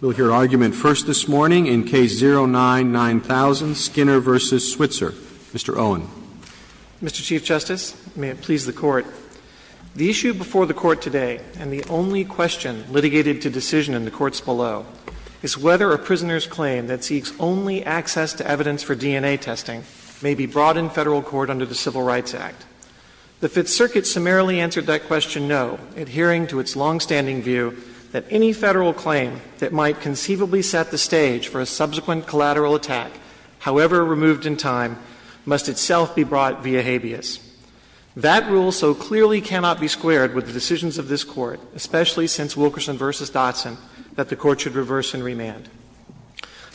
We'll hear argument first this morning in Case 09-9000, Skinner v. Switzer. Mr. Owen. Mr. Chief Justice, and may it please the Court, The issue before the Court today, and the only question litigated to decision in the courts below, is whether a prisoner's claim that seeks only access to evidence for DNA testing may be brought in Federal court under the Civil Rights Act. The Fifth Circuit summarily answered that question no, adhering to its longstanding view that any Federal claim that might conceivably set the stage for a subsequent collateral attack, however removed in time, must itself be brought via habeas. That rule so clearly cannot be squared with the decisions of this Court, especially since Wilkerson v. Dotson, that the Court should reverse and remand.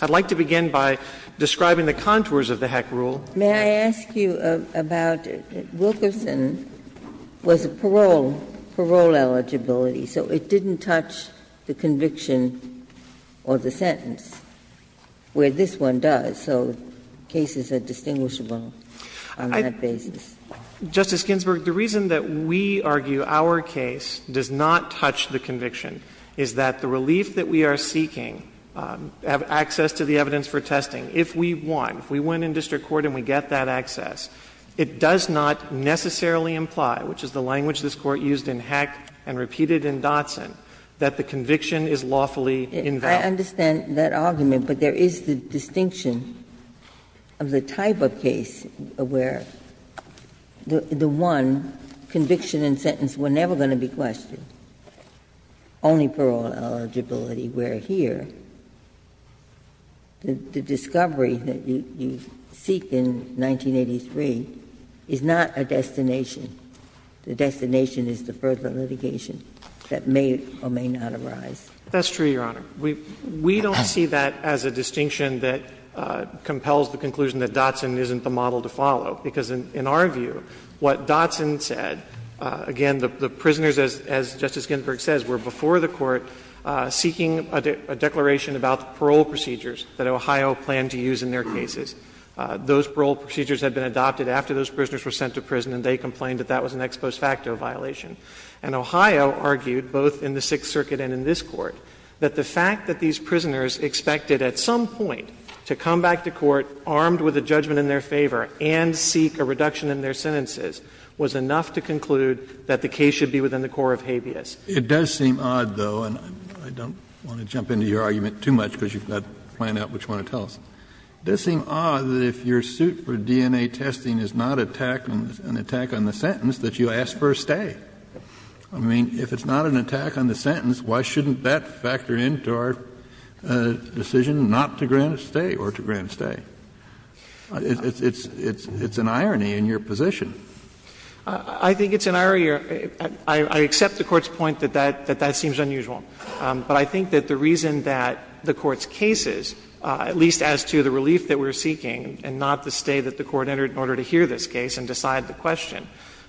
I'd like to begin by describing the contours of the Heck rule. May I ask you about Wilkerson was a parole, parole eligibility, so it didn't touch the conviction or the sentence, where this one does, so cases are distinguishable on that basis. Justice Ginsburg, the reason that we argue our case does not touch the conviction is that the relief that we are seeking, access to the evidence for testing, if we won, if we win in district court and we get that access, it does not necessarily imply, which is the language this Court used in Heck and repeated in Dotson, that the conviction is lawfully invalid. Ginsburg, I understand that argument, but there is the distinction of the type of case where the one conviction and sentence were never going to be questioned, only parole eligibility were here. The discovery that you seek in 1983 is not a destination. The destination is the further litigation that may or may not arise. That's true, Your Honor. We don't see that as a distinction that compels the conclusion that Dotson isn't the model to follow, because in our view, what Dotson said, again, the prisoners, as Justice Ginsburg says, were before the Court seeking a declaration about the parole procedures that Ohio planned to use in their cases. Those parole procedures had been adopted after those prisoners were sent to prison and they complained that that was an ex post facto violation. And Ohio argued, both in the Sixth Circuit and in this Court, that the fact that these prisoners expected at some point to come back to court armed with a judgment in their favor and seek a reduction in their sentences was enough to conclude that the case should be within the core of habeas. Kennedy, It does seem odd, though, and I don't want to jump into your argument too much because you've got to plan out what you want to tell us. It does seem odd that if your suit for DNA testing is not an attack on the sentence, that you ask for a stay. I mean, if it's not an attack on the sentence, why shouldn't that factor into our decision not to grant a stay or to grant a stay? It's an irony in your position. I think it's an irony. I accept the Court's point that that seems unusual. But I think that the reason that the Court's cases, at least as to the relief that we're seeking and not the stay that the Court entered in order to hear this case and decide the question,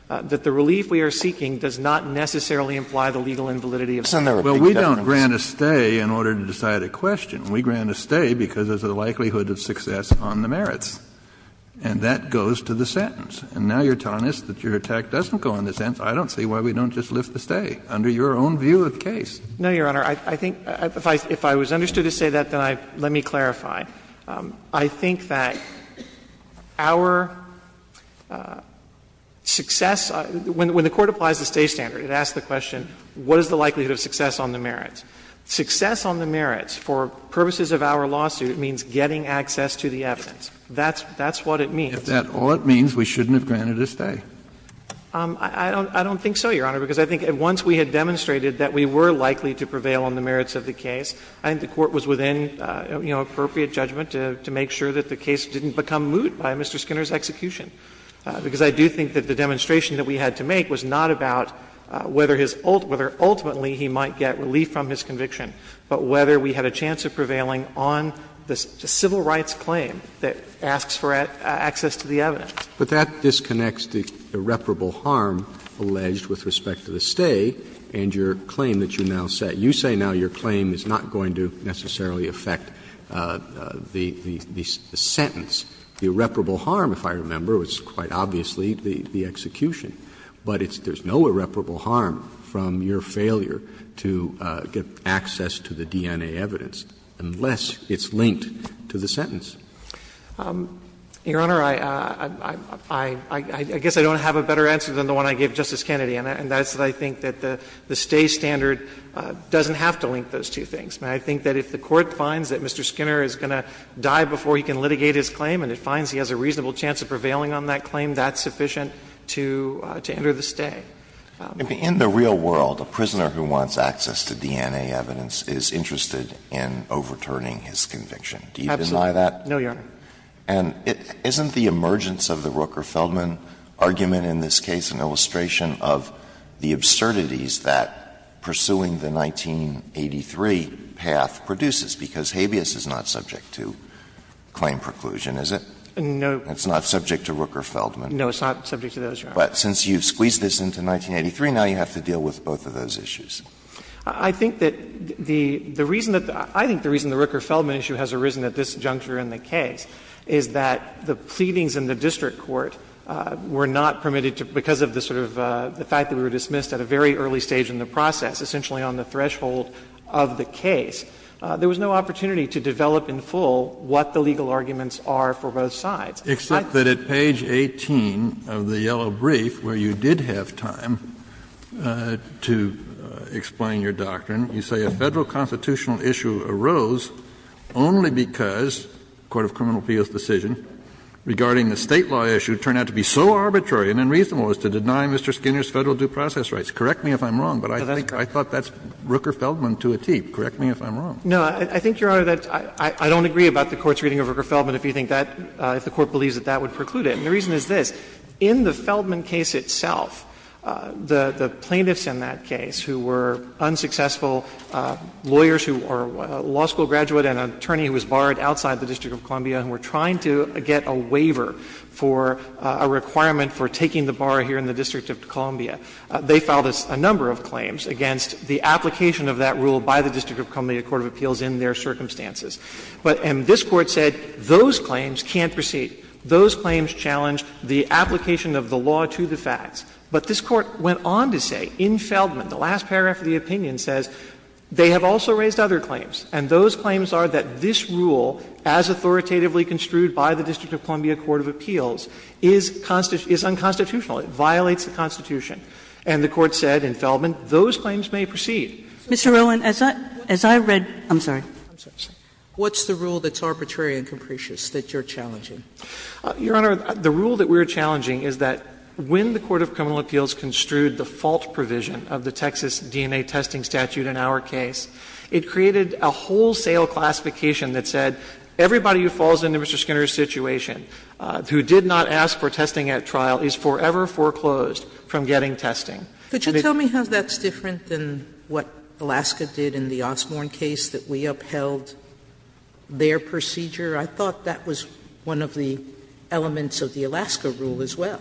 that the relief we are seeking does not necessarily imply the legal invalidity of some of the defendants. Kennedy, Well, we don't grant a stay in order to decide a question. We grant a stay because there's a likelihood of success on the merits, and that goes to the sentence. And now you're telling us that your attack doesn't go on the sentence. I don't see why we don't just lift the stay under your own view of the case. No, Your Honor. I think if I was understood to say that, then let me clarify. I think that our success, when the Court applies the stay standard, it asks the question, what is the likelihood of success on the merits? Success on the merits, for purposes of our lawsuit, means getting access to the evidence. That's what it means. If that's all it means, we shouldn't have granted a stay. I don't think so, Your Honor, because I think once we had demonstrated that we were likely to prevail on the merits of the case, I think the Court was within, you know, appropriate judgment to make sure that the case didn't become moot by Mr. Skinner's execution, because I do think that the demonstration that we had to make was not about whether ultimately he might get relief from his conviction, but whether we had a chance of prevailing on the civil rights claim that asks for access to the evidence. But that disconnects the irreparable harm alleged with respect to the stay and your claim that you now set. You say now your claim is not going to necessarily affect the sentence. The irreparable harm, if I remember, was quite obviously the execution. But there's no irreparable harm from your failure to get access to the DNA evidence. Unless it's linked to the sentence. Your Honor, I guess I don't have a better answer than the one I gave Justice Kennedy, and that's that I think that the stay standard doesn't have to link those two things. I think that if the Court finds that Mr. Skinner is going to die before he can litigate his claim and it finds he has a reasonable chance of prevailing on that claim, that's sufficient to enter the stay. In the real world, a prisoner who wants access to DNA evidence is interested in overturning his conviction. Do you deny that? No, Your Honor. And isn't the emergence of the Rooker-Feldman argument in this case an illustration of the absurdities that pursuing the 1983 path produces, because habeas is not subject to claim preclusion, is it? No. It's not subject to Rooker-Feldman. No, it's not subject to those, Your Honor. But since you've squeezed this into 1983, now you have to deal with both of those issues. I think that the reason that the – I think the reason the Rooker-Feldman issue has arisen at this juncture in the case is that the pleadings in the district court were not permitted to, because of the sort of the fact that we were dismissed at a very early stage in the process, essentially on the threshold of the case. There was no opportunity to develop in full what the legal arguments are for both sides. Except that at page 18 of the yellow brief, where you did have time to explain your doctrine, you say a Federal constitutional issue arose only because the court of criminal appeals decision regarding the State law issue turned out to be so arbitrary and unreasonable as to deny Mr. Skinner's Federal due process rights. Correct me if I'm wrong, but I think I thought that's Rooker-Feldman to a tee. Correct me if I'm wrong. No, I think, Your Honor, that I don't agree about the Court's reading of Rooker-Feldman. If you think that, if the Court believes that, that would preclude it. And the reason is this. In the Feldman case itself, the plaintiffs in that case who were unsuccessful lawyers who are a law school graduate and an attorney who was borrowed outside the District of Columbia and were trying to get a waiver for a requirement for taking the borrower here in the District of Columbia, they filed a number of claims against the application of that rule by the District of Columbia court of appeals in their circumstances. But this Court said those claims can't proceed. Those claims challenge the application of the law to the facts. But this Court went on to say in Feldman, the last paragraph of the opinion says they have also raised other claims, and those claims are that this rule, as authoritatively construed by the District of Columbia court of appeals, is unconstitutional. It violates the Constitution. And the Court said in Feldman those claims may proceed. Sotomayor, as I read, I'm sorry. What's the rule that's arbitrary and capricious that you're challenging? Your Honor, the rule that we're challenging is that when the court of criminal appeals construed the fault provision of the Texas DNA testing statute in our case, it created a wholesale classification that said everybody who falls into Mr. Skinner's situation, who did not ask for testing at trial, is forever foreclosed from getting testing. Sotomayor, could you tell me how that's different than what Alaska did in the Osborne case, that we upheld their procedure? I thought that was one of the elements of the Alaska rule as well.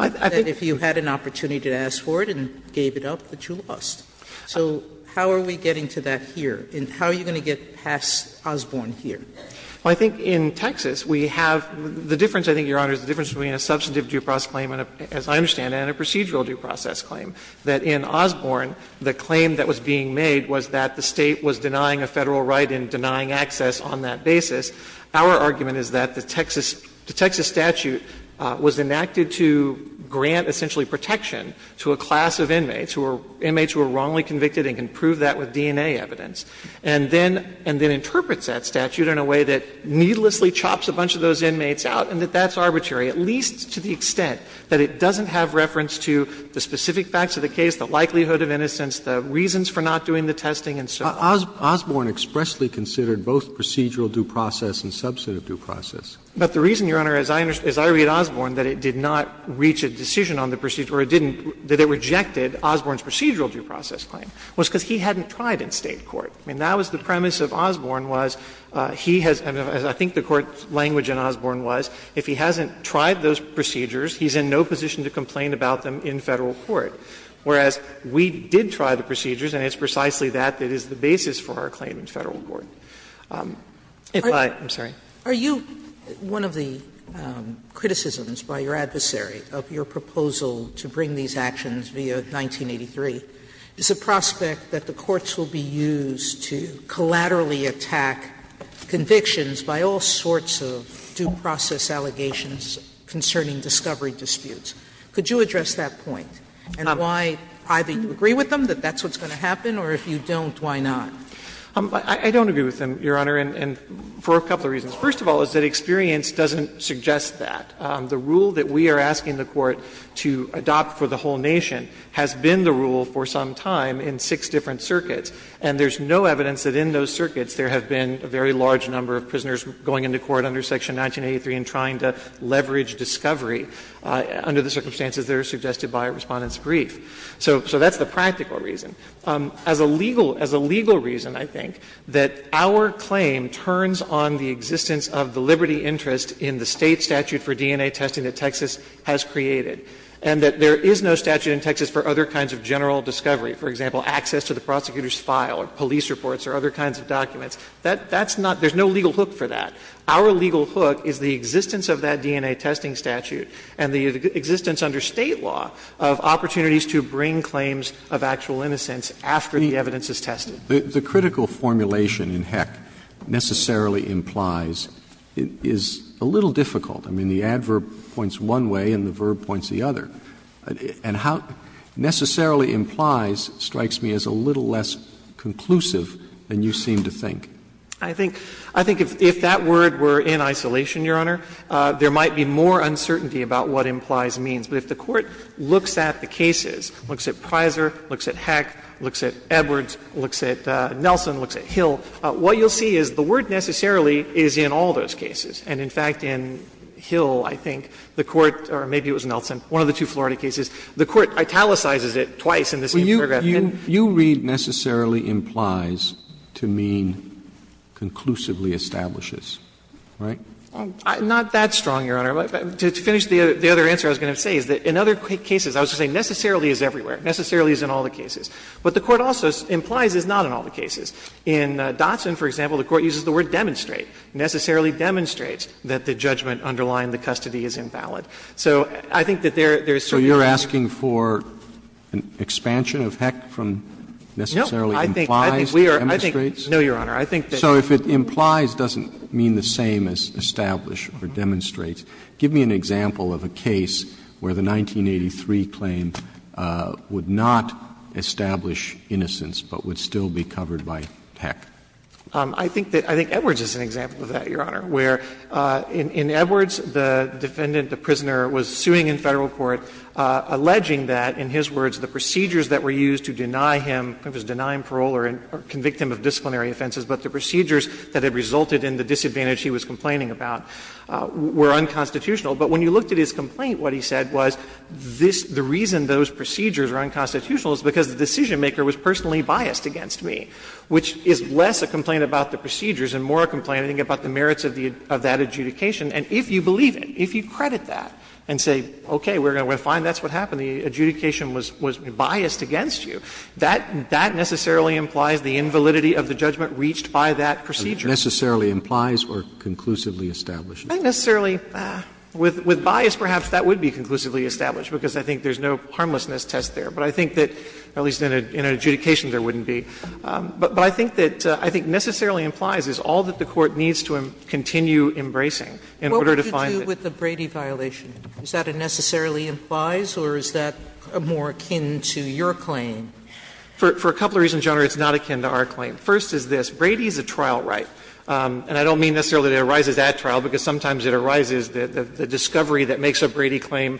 If you had an opportunity to ask for it and gave it up, but you lost. So how are we getting to that here? And how are you going to get past Osborne here? Well, I think in Texas we have the difference, I think, Your Honor, is the difference between a substantive due process claim, as I understand it, and a procedural due process claim, that in Osborne the claim that was being made was that the State was denying a Federal right and denying access on that basis. Our argument is that the Texas statute was enacted to grant essentially protection to a class of inmates who were inmates who were wrongly convicted and can prove that with DNA evidence, and then interprets that statute in a way that needlessly chops a bunch of those inmates out, and that that's arbitrary, at least to the extent that it doesn't have reference to the specific facts of the case, the likelihood of innocence, the reasons for not doing the testing, and so on. Osborne expressly considered both procedural due process and substantive due process. But the reason, Your Honor, as I read Osborne, that it did not reach a decision on the procedure, or it didn't, that it rejected Osborne's procedural due process claim, was because he hadn't tried in State court. I mean, that was the premise of Osborne, was he has been, as I think the Court's language in Osborne was, if he hasn't tried those procedures, he's in no position to complain about them in Federal court. Whereas, we did try the procedures, and it's precisely that that is the basis for our claim in Federal court. If I, I'm sorry. Sotomayor, are you, one of the criticisms by your adversary of your proposal to bring these actions via 1983 is the prospect that the courts will be used to collaterally attack convictions by all sorts of due process allegations concerning discovery disputes. Could you address that point? And why, either you agree with them that that's what's going to happen, or if you don't, why not? I don't agree with them, Your Honor, and for a couple of reasons. First of all is that experience doesn't suggest that. The rule that we are asking the Court to adopt for the whole nation has been the rule for some time in six different circuits, and there's no evidence that in those circuits there have been a very large number of prisoners going into court under Section 1983 and trying to leverage discovery under the circumstances that are suggested by Respondent's brief. So that's the practical reason. As a legal, as a legal reason, I think, that our claim turns on the existence of the liberty interest in the State statute for DNA testing that Texas has created, and that there is no statute in Texas for other kinds of general discovery, for example, access to the prosecutor's file or police reports or other kinds of documents. That's not – there's no legal hook for that. Our legal hook is the existence of that DNA testing statute and the existence under State law of opportunities to bring claims of actual innocence after the evidence is tested. Roberts The critical formulation in Heck, necessarily implies, is a little difficult. I mean, the adverb points one way and the verb points the other. And how necessarily implies strikes me as a little less conclusive than you seem to think. I think if that word were in isolation, Your Honor, there might be more uncertainty about what implies means. But if the Court looks at the cases, looks at Prizer, looks at Heck, looks at Edwards, looks at Nelson, looks at Hill, what you'll see is the word necessarily is in all those cases. And, in fact, in Hill, I think, the Court – or maybe it was Nelson, one of the two Florida cases – the Court italicizes it twice in the same paragraph. Roberts Well, you read necessarily implies to mean conclusively establishes, right? Well, I'm not that strong, Your Honor. To finish the other answer I was going to say is that in other cases, I was just saying necessarily is everywhere. Necessarily is in all the cases. What the Court also implies is not in all the cases. In Dotson, for example, the Court uses the word demonstrate. Necessarily demonstrates that the judgment underlying the custody is invalid. So I think that there is certainly a difference. Roberts So you're asking for an expansion of Heck from necessarily implies to demonstrates? No, Your Honor. I think that's what I'm saying. Roberts So if it implies doesn't mean the same as establish or demonstrate. Give me an example of a case where the 1983 claim would not establish innocence, but would still be covered by Heck. I think that – I think Edwards is an example of that, Your Honor, where in Edwards, the defendant, the prisoner, was suing in Federal court, alleging that, in his words, the procedures that were used to deny him, to deny him parole or convict him of disciplinary offenses, but the procedures that had resulted in the disadvantage he was complaining about were unconstitutional. But when you looked at his complaint, what he said was this – the reason those procedures are unconstitutional is because the decisionmaker was personally biased against me, which is less a complaint about the procedures and more a complaint I think about the merits of the – of that adjudication. And if you believe it, if you credit that and say, okay, we're going to find that's what happened, the adjudication was – was biased against you, that – that necessarily implies the invalidity of the judgment reached by that procedure. Roberts Necessarily implies or conclusively establishes? I think necessarily – with bias, perhaps that would be conclusively established, because I think there's no harmlessness test there. But I think that, at least in an adjudication, there wouldn't be. But I think that – I think necessarily implies is all that the Court needs to continue embracing in order to find that. Sotomayor What would you do with the Brady violation? Is that a necessarily implies or is that more akin to your claim? For a couple of reasons, Your Honor, it's not akin to our claim. First is this. Brady is a trial right. And I don't mean necessarily that it arises at trial, because sometimes it arises that the discovery that makes a Brady claim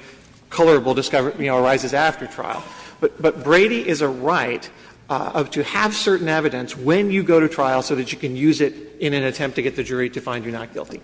colorable discovery, you know, arises after trial. But Brady is a right to have certain evidence when you go to trial so that you can use it in an attempt to get the jury to find you not guilty.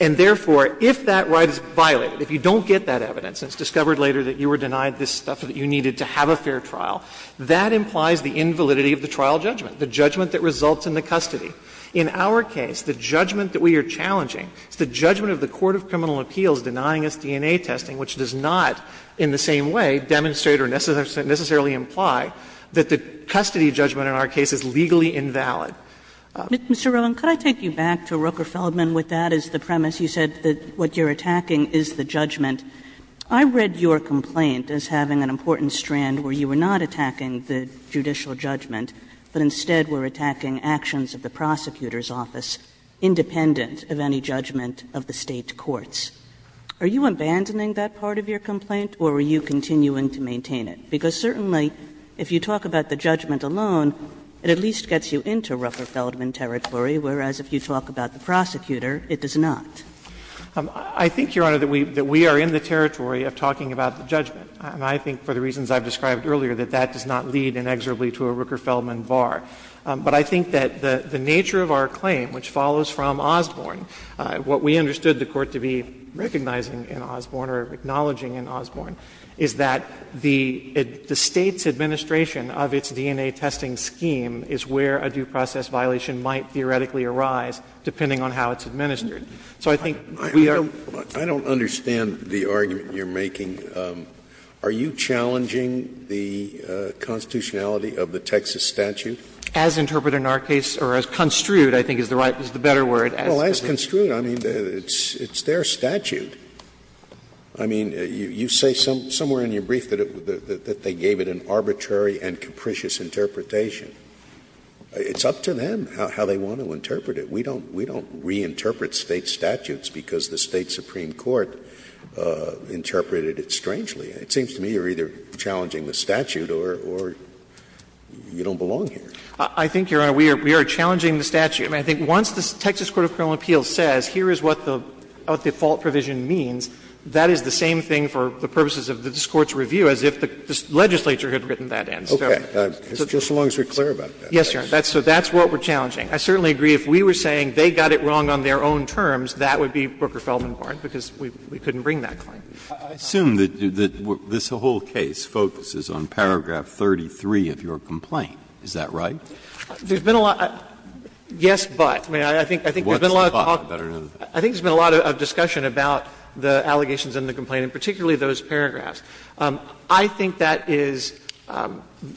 And therefore, if that right is violated, if you don't get that evidence and it's discovered later that you were denied this stuff that you needed to have a fair trial, that implies the invalidity of the trial judgment. The judgment that results in the custody. In our case, the judgment that we are challenging is the judgment of the court of criminal appeals denying us DNA testing, which does not in the same way demonstrate or necessarily imply that the custody judgment in our case is legally invalid. Kagan Mr. Roland, could I take you back to Roker-Feldman with that as the premise? You said that what you're attacking is the judgment. I read your complaint as having an important strand where you were not attacking the judicial judgment, but instead were attacking actions of the prosecutor's office independent of any judgment of the State courts. Are you abandoning that part of your complaint or are you continuing to maintain it? Because certainly, if you talk about the judgment alone, it at least gets you into Roker-Feldman territory, whereas if you talk about the prosecutor, it does not. Roland I think, Your Honor, that we are in the territory of talking about the judgment. And I think for the reasons I've described earlier, that that does not lead inexorably to a Roker-Feldman bar. But I think that the nature of our claim, which follows from Osborne, what we understood the court to be recognizing in Osborne or acknowledging in Osborne, is that the State's administration of its DNA testing scheme is where a due process violation might theoretically arise, depending on how it's administered. So I think we are Scalia I don't understand the argument you're making. Are you challenging the constitutionality of the Texas statute? As interpreted in our case, or as construed, I think, is the right, is the better word. Well, as construed, I mean, it's their statute. I mean, you say somewhere in your brief that they gave it an arbitrary and capricious interpretation. It's up to them how they want to interpret it. We don't reinterpret State statutes because the State supreme court interpreted it strangely. It seems to me you're either challenging the statute or you don't belong here. I think, Your Honor, we are challenging the statute. I mean, I think once the Texas court of criminal appeals says here is what the default provision means, that is the same thing for the purposes of this Court's review as if the legislature had written that in. Okay. As long as you're clear about that. Yes, Your Honor. So that's what we're challenging. I certainly agree if we were saying they got it wrong on their own terms, that would be Brooker-Feldenkorn, because we couldn't bring that claim. Breyer, I assume that this whole case focuses on paragraph 33 of your complaint. Is that right? There's been a lot of yes, but. I mean, I think there's been a lot of talk. I think there's been a lot of discussion about the allegations in the complaint, and particularly those paragraphs. I think that is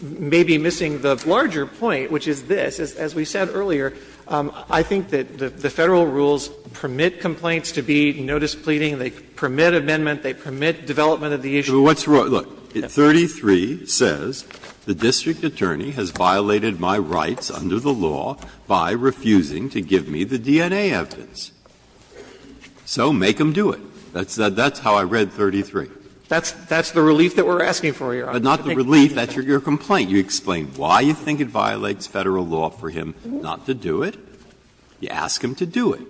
maybe missing the larger point, which is this. As we said earlier, I think that the Federal rules permit complaints to be notice pleading, they permit amendment, they permit development of the issue. Look, 33 says the district attorney has violated my rights under the law by refusing to give me the DNA evidence. So make him do it. That's how I read 33. That's the relief that we're asking for, Your Honor. But not the relief. That's your complaint. You explain why you think it violates Federal law for him not to do it. You ask him to do it.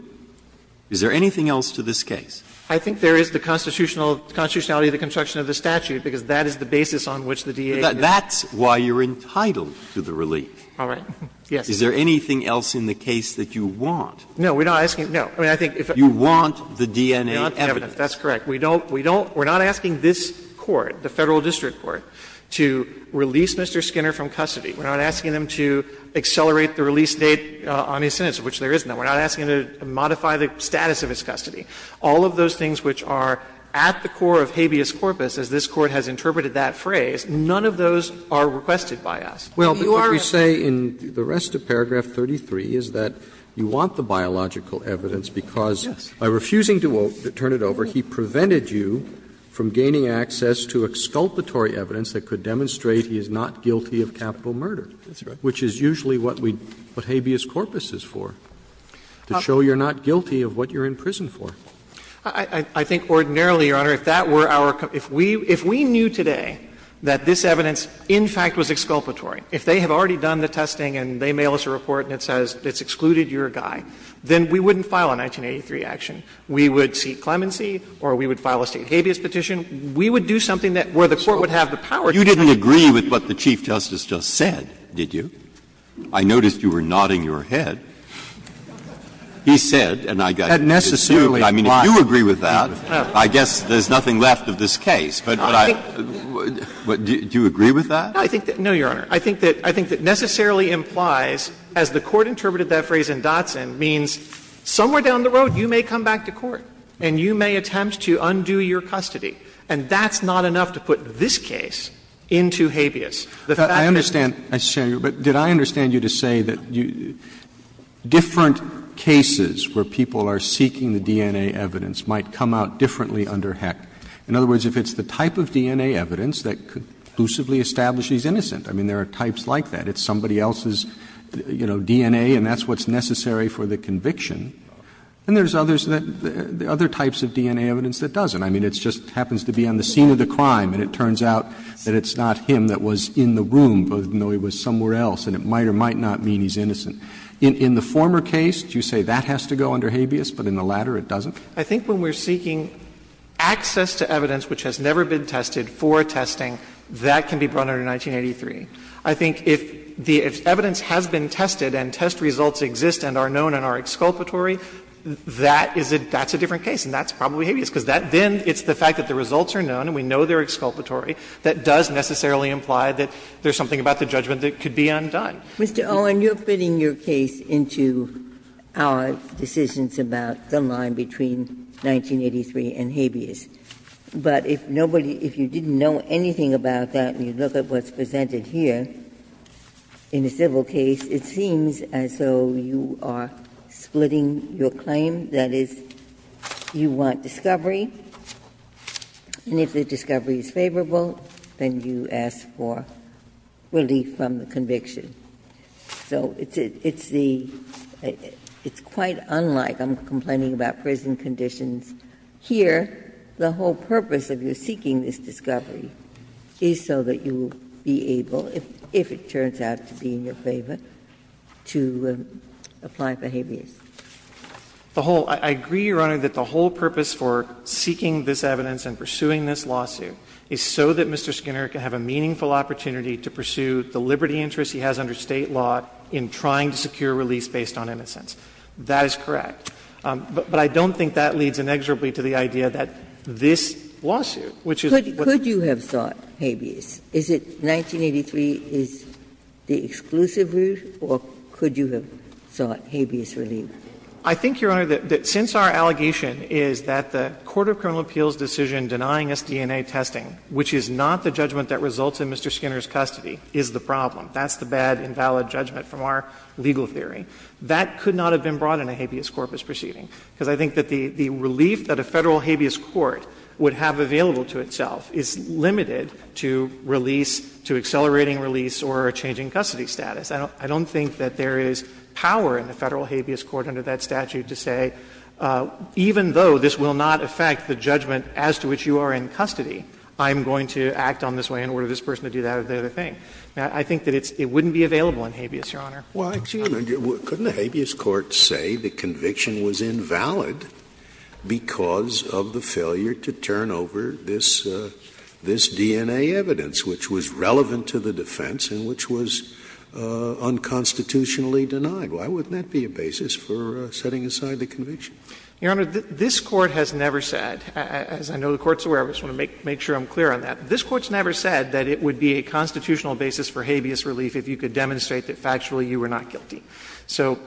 Is there anything else to this case? I think there is the constitutional of the construction of the statute, because that is the basis on which the DA is. That's why you're entitled to the relief. All right. Yes. Is there anything else in the case that you want? No. We're not asking, no. I mean, I think if I'm not. You want the DNA evidence. That's correct. We don't, we don't, we're not asking this Court, the Federal district court, to release Mr. Skinner from custody. We're not asking them to accelerate the release date on his sentence, which there is none. We're not asking them to modify the status of his custody. All of those things which are at the core of habeas corpus, as this Court has interpreted that phrase, none of those are requested by us. You are asking. Well, what you say in the rest of paragraph 33 is that you want the biological evidence because by refusing to turn it over, he prevented you from gaining access to exculpatory evidence that could demonstrate he is not guilty of capital murder. That's right. Which is usually what we, what habeas corpus is for, to show you're not guilty of what you're in prison for. I think ordinarily, Your Honor, if that were our, if we, if we knew today that this evidence in fact was exculpatory, if they have already done the testing and they mail us a report and it says it's excluded your guy, then we wouldn't file a 1983 action. We would seek clemency or we would file a state habeas petition. We would do something that, where the Court would have the power to do that. You didn't agree with what the Chief Justice just said, did you? I noticed you were nodding your head. He said, and I got to dispute, but I mean, if you agree with that, I guess there's nothing left of this case, but I, but do you agree with that? I think that, no, Your Honor, I think that, I think that necessarily implies, as the Court interpreted that phrase in Dotson, means somewhere down the road you may come back to court and you may attempt to undo your custody, and that's not enough to put this case into habeas. The fact that you can't do that is not enough to put this case into habeas. Roberts, I understand, Mr. Shanmugam, but did I understand you to say that you, different cases where people are seeking the DNA evidence might come out differently under Heck? In other words, if it's the type of DNA evidence that conclusively establishes he's innocent, I mean, there are types like that. It's somebody else's, you know, DNA and that's what's necessary for the conviction. And there's others that, other types of DNA evidence that doesn't. I mean, it just happens to be on the scene of the crime and it turns out that it's not him that was in the room, even though he was somewhere else, and it might or might not mean he's innocent. In the former case, do you say that has to go under habeas, but in the latter it doesn't? I think when we're seeking access to evidence which has never been tested for testing, that can be brought under 1983. I think if the evidence has been tested and test results exist and are known and are exculpatory, that is a different case and that's probably habeas, because then it's the fact that the results are known and we know they're exculpatory, that does necessarily imply that there's something about the judgment that could be undone. Ginsburg. Mr. Owen, you're fitting your case into our decisions about the line between 1983 and habeas. But if nobody, if you didn't know anything about that and you look at what's presented here, in a civil case, it seems as though you are splitting your claim, that is, you want discovery, and if the discovery is favorable, then you ask for relief from the conviction. So it's the – it's quite unlike, I'm complaining about prison conditions here, the whole purpose of your seeking this discovery is so that you will be able if it turns out to be in your favor, to apply for habeas. Owen, I agree, Your Honor, that the whole purpose for seeking this evidence and pursuing this lawsuit is so that Mr. Skinner can have a meaningful opportunity to pursue the liberty interest he has under State law in trying to secure release based on innocence. That is correct. But I don't think that leads inexorably to the idea that this lawsuit, which is what the other one is. Ginsburg, I'm not sure if you agree that the discovery is the exclusive route, or could you have sought habeas relief? I think, Your Honor, that since our allegation is that the court of criminal appeals' decision denying us DNA testing, which is not the judgment that results in Mr. Skinner's custody, is the problem. That's the bad, invalid judgment from our legal theory. That could not have been brought in a habeas corpus proceeding, because I think that the relief that a Federal habeas court would have available to itself is limited to release, to accelerating release, or changing custody status. I don't think that there is power in the Federal habeas court under that statute to say, even though this will not affect the judgment as to which you are in custody, I'm going to act on this way in order for this person to do that or the other thing. I think that it wouldn't be available in habeas, Your Honor. Scalia, couldn't a habeas court say the conviction was invalid because of the failure to turn over this DNA evidence, which was relevant to the defense and which was unconstitutionally denied? Why wouldn't that be a basis for setting aside the conviction? Your Honor, this Court has never said, as I know the Court's aware of, I just want to make sure I'm clear on that, this Court's never said that it would be a constitutional basis for habeas relief if you could demonstrate that factually you were not guilty. So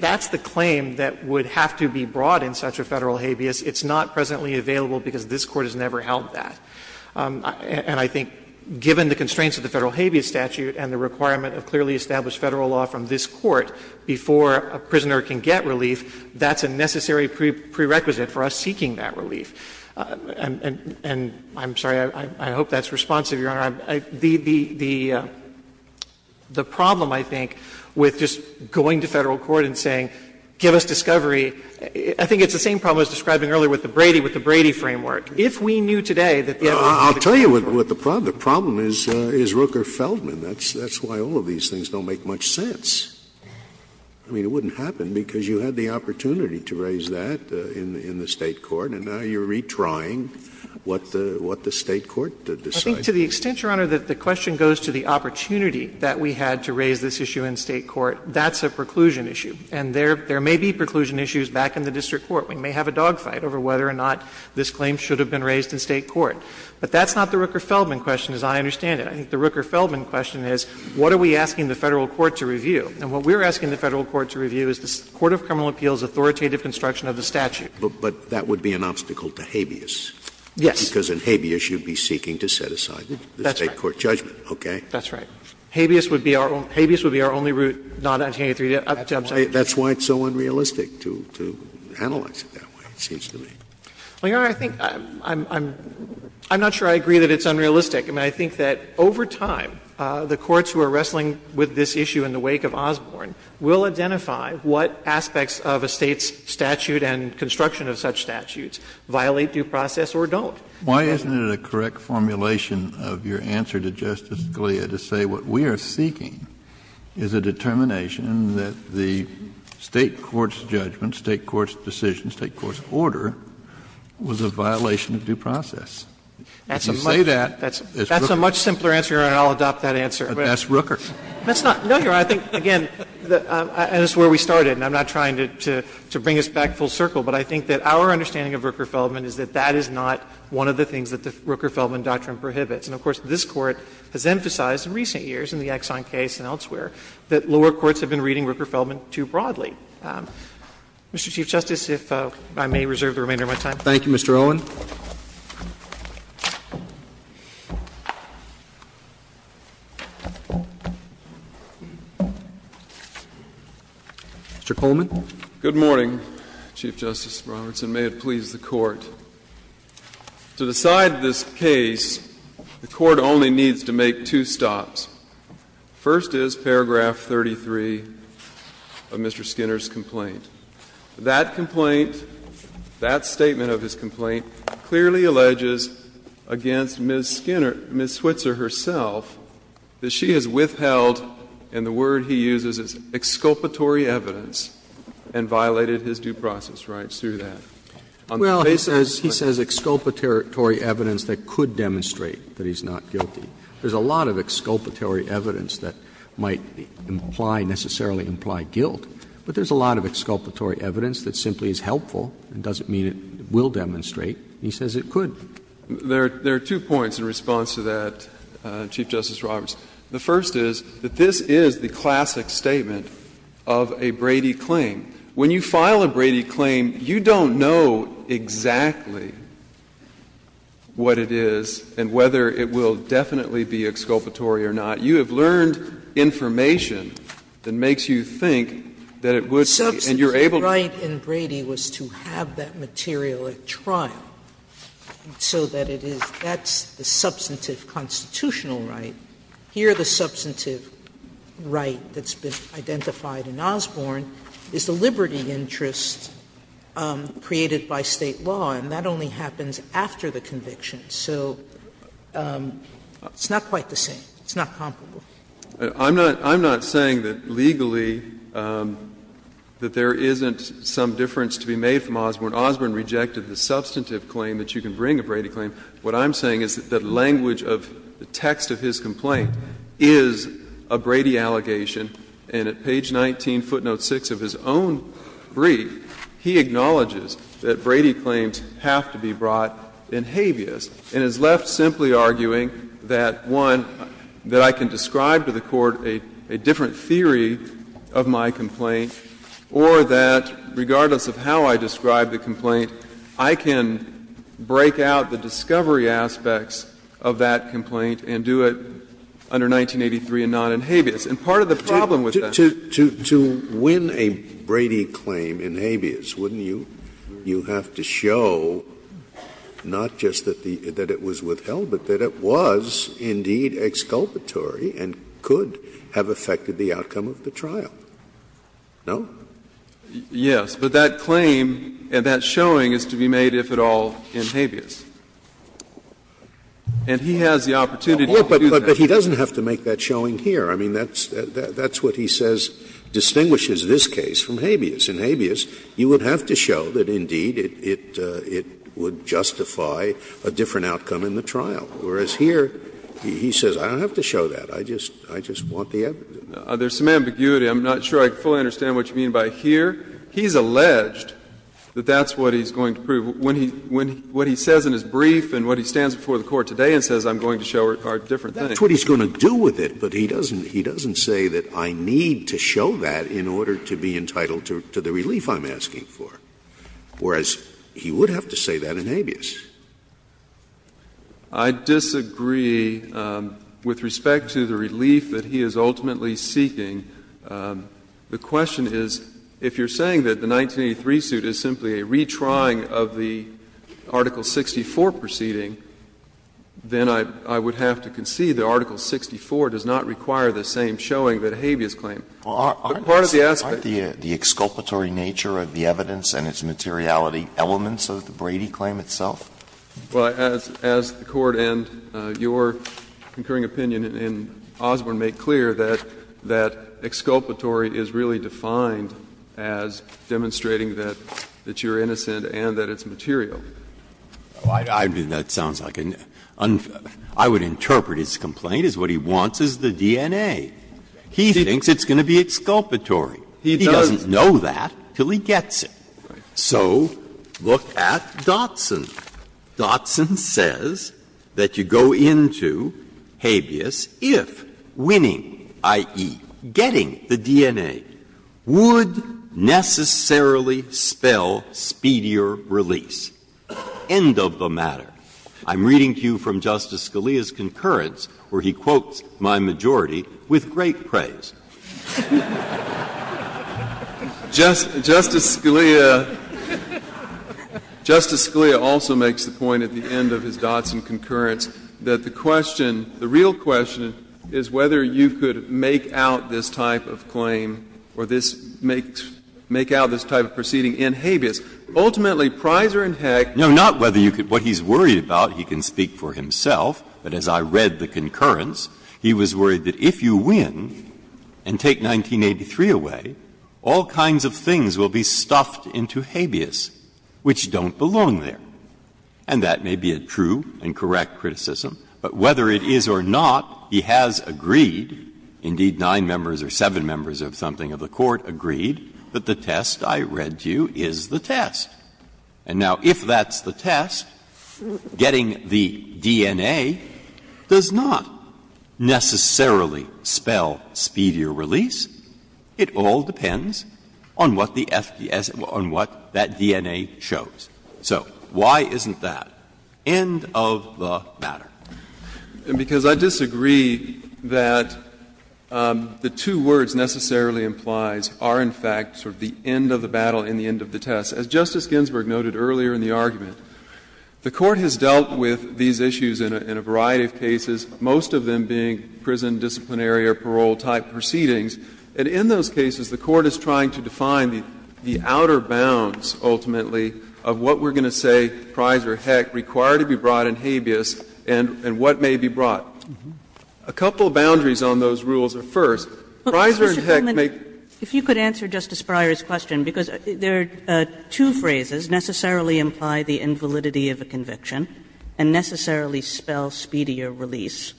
that's the claim that would have to be brought in such a Federal habeas. It's not presently available because this Court has never held that. And I think, given the constraints of the Federal habeas statute and the requirement of clearly established Federal law from this Court before a prisoner can get relief, that's a necessary prerequisite for us seeking that relief. The problem, I think, with just going to Federal court and saying, give us discovery, I think it's the same problem as describing earlier with the Brady, with the Brady framework. If we knew today that the evidence was in the framework. Scalia, I'll tell you what the problem is, is Rooker-Feldman. That's why all of these things don't make much sense. I mean, it wouldn't happen because you had the opportunity to raise that in the State court, and now you're retrying what the State court decided. I think to the extent, Your Honor, that the question goes to the opportunity that we had to raise this issue in State court, that's a preclusion issue. And there may be preclusion issues back in the district court. We may have a dogfight over whether or not this claim should have been raised in State court. But that's not the Rooker-Feldman question, as I understand it. I think the Rooker-Feldman question is, what are we asking the Federal court to review? And what we're asking the Federal court to review is the court of criminal appeals' authoritative construction of the statute. But that would be an obstacle to habeas. Yes. Scalia, because in habeas, you'd be seeking to set aside the State court judgment. Okay? That's right. Habeas would be our only route, not 1883. That's why it's so unrealistic to analyze it that way, it seems to me. Well, Your Honor, I think I'm not sure I agree that it's unrealistic. I mean, I think that over time, the courts who are wrestling with this issue in the wake of Osborne will identify what aspects of a State's statute and construction of such statutes violate due process or don't. Why isn't it a correct formulation of your answer to Justice Scalia to say what we are seeking is a determination that the State court's judgment, State court's decision, State court's order was a violation of due process? If you say that, it's Rooker. That's a much simpler answer, Your Honor, and I'll adopt that answer. But that's Rooker. That's not — no, Your Honor, I think, again, that's where we started, and I'm not trying to bring us back full circle, but I think that our understanding of Rooker-Feldman is that that is not one of the things that the Rooker-Feldman doctrine prohibits. And, of course, this Court has emphasized in recent years in the Exxon case and elsewhere that lower courts have been reading Rooker-Feldman too broadly. Mr. Chief Justice, if I may reserve the remainder of my time. Roberts. Thank you, Mr. Owen. Mr. Coleman. Good morning, Chief Justice Roberts, and may it please the Court. To decide this case, the Court only needs to make two stops. First is paragraph 33 of Mr. Skinner's complaint. That complaint, that statement of his complaint clearly alleges against Ms. Skinner — Ms. Switzer herself that she has withheld, and the word he uses is exculpatory evidence — and violated his due process rights through that. Well, he says exculpatory evidence that could demonstrate that he's not guilty. There's a lot of exculpatory evidence that might imply — necessarily imply guilt, but there's a lot of exculpatory evidence that simply is helpful and doesn't mean it will demonstrate, and he says it could. There are two points in response to that, Chief Justice Roberts. The first is that this is the classic statement of a Brady claim. When you file a Brady claim, you don't know exactly what it is and whether it will definitely be exculpatory or not. You have learned information that makes you think that it would be, and you're able to— Substantive right in Brady was to have that material at trial, so that it is — that's the substantive constitutional right. Here, the substantive right that's been identified in Osborne is the liberty interest created by State law, and that only happens after the conviction. So it's not quite the same. It's not comparable. I'm not — I'm not saying that legally that there isn't some difference to be made from Osborne. Osborne rejected the substantive claim that you can bring a Brady claim. What I'm saying is that the language of the text of his complaint is a Brady allegation. And at page 19, footnote 6 of his own brief, he acknowledges that Brady claims have to be brought in habeas, and is left simply arguing that, one, that I can describe to the Court a different theory of my complaint, or that regardless of how I describe the complaint, I can break out the discovery aspects of that complaint and do it under 1983 and not in habeas. And part of the problem with that is that— Scalia, to win a Brady claim in habeas, wouldn't you have to show not just that it was withheld, but that it was indeed exculpatory and could have affected the outcome of the trial? No? Yes. But that claim and that showing is to be made, if at all, in habeas. And he has the opportunity to do that. Scalia, but he doesn't have to make that showing here. I mean, that's what he says distinguishes this case from habeas. In habeas, you would have to show that, indeed, it would justify a different outcome in the trial, whereas here he says, I don't have to show that, I just want the evidence. There's some ambiguity. I'm not sure I fully understand what you mean by here. He's alleged that that's what he's going to prove. When he — what he says in his brief and what he stands before the Court today and says, I'm going to show are different things. That's what he's going to do with it, but he doesn't — he doesn't say that I need to show that in order to be entitled to the relief I'm asking for, whereas he would have to say that in habeas. I disagree with respect to the relief that he is ultimately seeking. The question is, if you're saying that the 1983 suit is simply a retrying of the Article 64 proceeding, then I would have to concede that Article 64 does not require the same showing that a habeas claim. But part of the aspect of the case is that it's not a habeas claim, it's not a habeas claim. Alitos, aren't the exculpatory nature of the evidence and its materiality elements of the Brady claim itself? Well, as the Court and your concurring opinion in Osborne make clear, that exculpatory is really defined as demonstrating that you're innocent and that it's material. Breyer, I mean, that sounds like a — I would interpret his complaint as what he wants is the DNA. He thinks it's going to be exculpatory. He doesn't know that until he gets it. So look at Dotson. Dotson says that you go into habeas if winning, i.e., getting the DNA, would necessarily spell speedier release. End of the matter. I'm reading to you from Justice Scalia's concurrence, where he quotes my majority with great praise. Justice Scalia also makes the point at the end of his Dotson concurrence that the question — the real question is whether you could make out this type of claim or this — make out this type of proceeding in habeas. Ultimately, Pryser and Heck— No, not whether you could. What he's worried about, he can speak for himself, but as I read the concurrence, he was worried that if you win and take 1983 away, all kinds of things will be stuffed into habeas which don't belong there. And that may be a true and correct criticism, but whether it is or not, he has agreed — indeed, nine members or seven members of something of the Court agreed that the test I read to you is the test. And now, if that's the test, getting the DNA does not necessarily spell speedier release. It all depends on what the FDS — on what that DNA shows. So why isn't that? End of the matter. And because I disagree that the two words necessarily implies are, in fact, sort of the end of the battle and the end of the test. As Justice Ginsburg noted earlier in the argument, the Court has dealt with these issues in a variety of cases, most of them being prison disciplinary or parole-type proceedings. And in those cases, the Court is trying to define the outer bounds, ultimately, of what we're going to say Pryser and Heck require to be brought in habeas and what may be brought. A couple of boundaries on those rules are, first, Pryser and Heck may— Kagan. If you could answer Justice Breyer's question, because there are two phrases, necessarily imply the invalidity of a conviction and necessarily spell speedier release.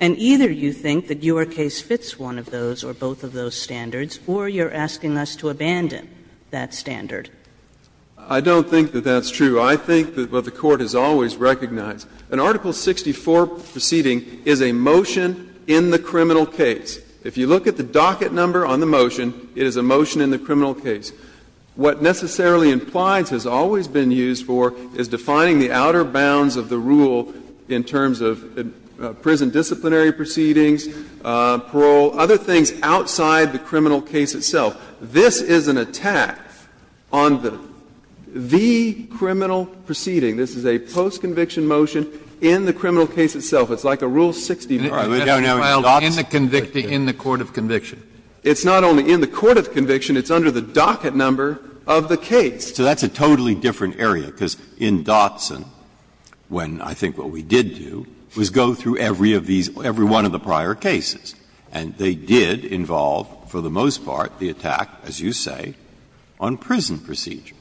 And either you think that your case fits one of those or both of those standards, or you're asking us to abandon that standard. I don't think that that's true. I think that what the Court has always recognized, an Article 64 proceeding is a motion in the criminal case. If you look at the docket number on the motion, it is a motion in the criminal case. What necessarily implies has always been used for is defining the outer bounds of the rule in terms of prison disciplinary proceedings, parole, other things outside the criminal case itself. This is an attack on the criminal proceeding. This is a post-conviction motion in the criminal case itself. It's like a Rule 60. Breyer, in the conviction, in the court of conviction. It's not only in the court of conviction. It's under the docket number of the case. So that's a totally different area, because in Dotson, when I think what we did do, was go through every of these, every one of the prior cases. And they did involve, for the most part, the attack, as you say, on prison proceedings.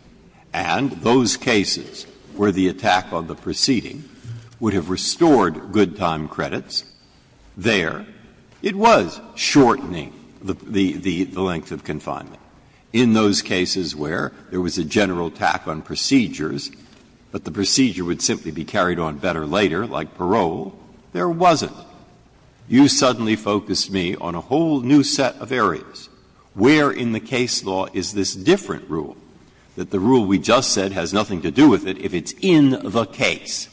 And those cases where the attack on the proceeding would have restored good time credits there, it was shortening the length of confinement. In those cases where there was a general attack on procedures, but the procedure would simply be carried on better later, like parole, there wasn't. You suddenly focused me on a whole new set of areas. Where in the case law is this different rule, that the rule we just said has nothing to do with it if it's in the case?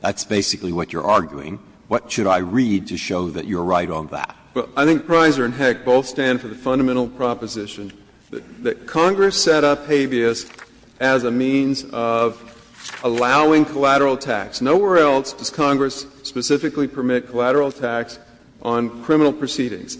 That's basically what you're arguing. What should I read to show that you're right on that? Well, I think Pryser and Heck both stand for the fundamental proposition that Congress set up habeas as a means of allowing collateral tax. Nowhere else does Congress specifically permit collateral tax on criminal proceedings.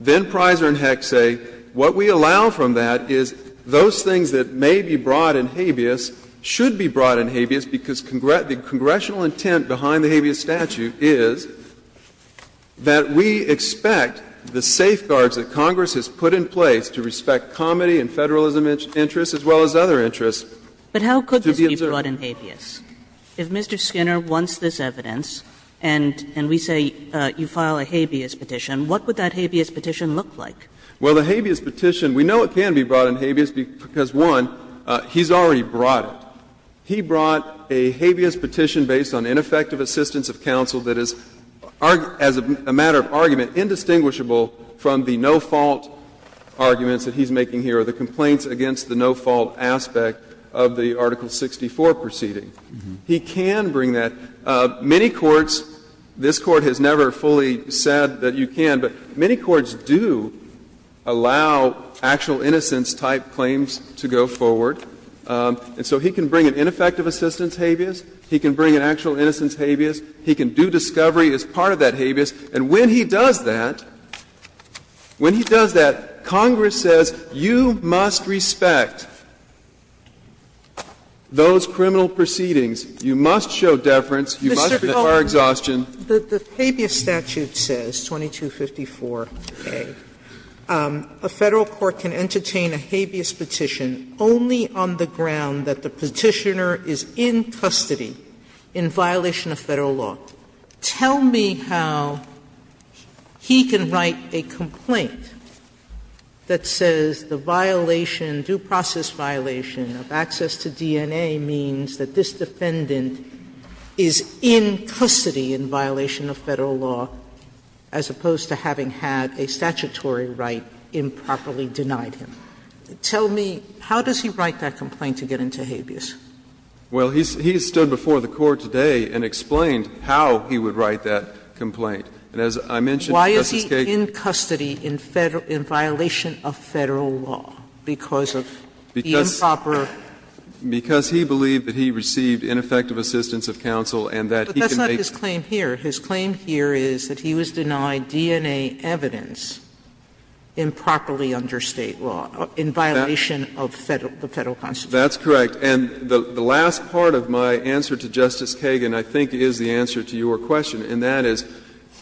Then Pryser and Heck say what we allow from that is those things that may be brought in habeas should be brought in habeas, because the congressional intent behind the habeas statute is that we expect the safeguards that Congress has put in place to respect comedy and Federalism interests as well as other interests to be observed. But how could this be brought in habeas? If Mr. Skinner wants this evidence and we say you file a habeas petition, what would that habeas petition look like? Well, the habeas petition, we know it can be brought in habeas because, one, he's already brought it. He brought a habeas petition based on ineffective assistance of counsel that is, as a matter of argument, indistinguishable from the no-fault arguments that he's making here or the complaints against the no-fault aspect of the Article 64 proceeding. He can bring that. Many courts, this Court has never fully said that you can, but many courts do allow actual innocence-type claims to go forward. And so he can bring an ineffective assistance habeas. He can bring an actual innocence habeas. He can do discovery as part of that habeas. And when he does that, when he does that, Congress says you must respect those criminal proceedings, you must show deference, you must require exhaustion. Sotomayor, the habeas statute says, 2254a, a Federal court can entertain a habeas petition only on the ground that the Petitioner is in custody in violation of Federal law. Tell me how he can write a complaint that says the violation, due process violation of access to DNA means that this defendant is in custody in violation of Federal law, as opposed to having had a statutory right improperly denied him. Tell me, how does he write that complaint to get into habeas? Well, he's stood before the Court today and explained how he would write that complaint. And as I mentioned, Justice Sotomayor. Why is he in custody in violation of Federal law, because of the improper? Because he believed that he received ineffective assistance of counsel and that he can make. But that's not his claim here. His claim here is that he was denied DNA evidence improperly under State law, in violation of the Federal constitution. That's correct. And the last part of my answer to Justice Kagan, I think, is the answer to your question. And that is,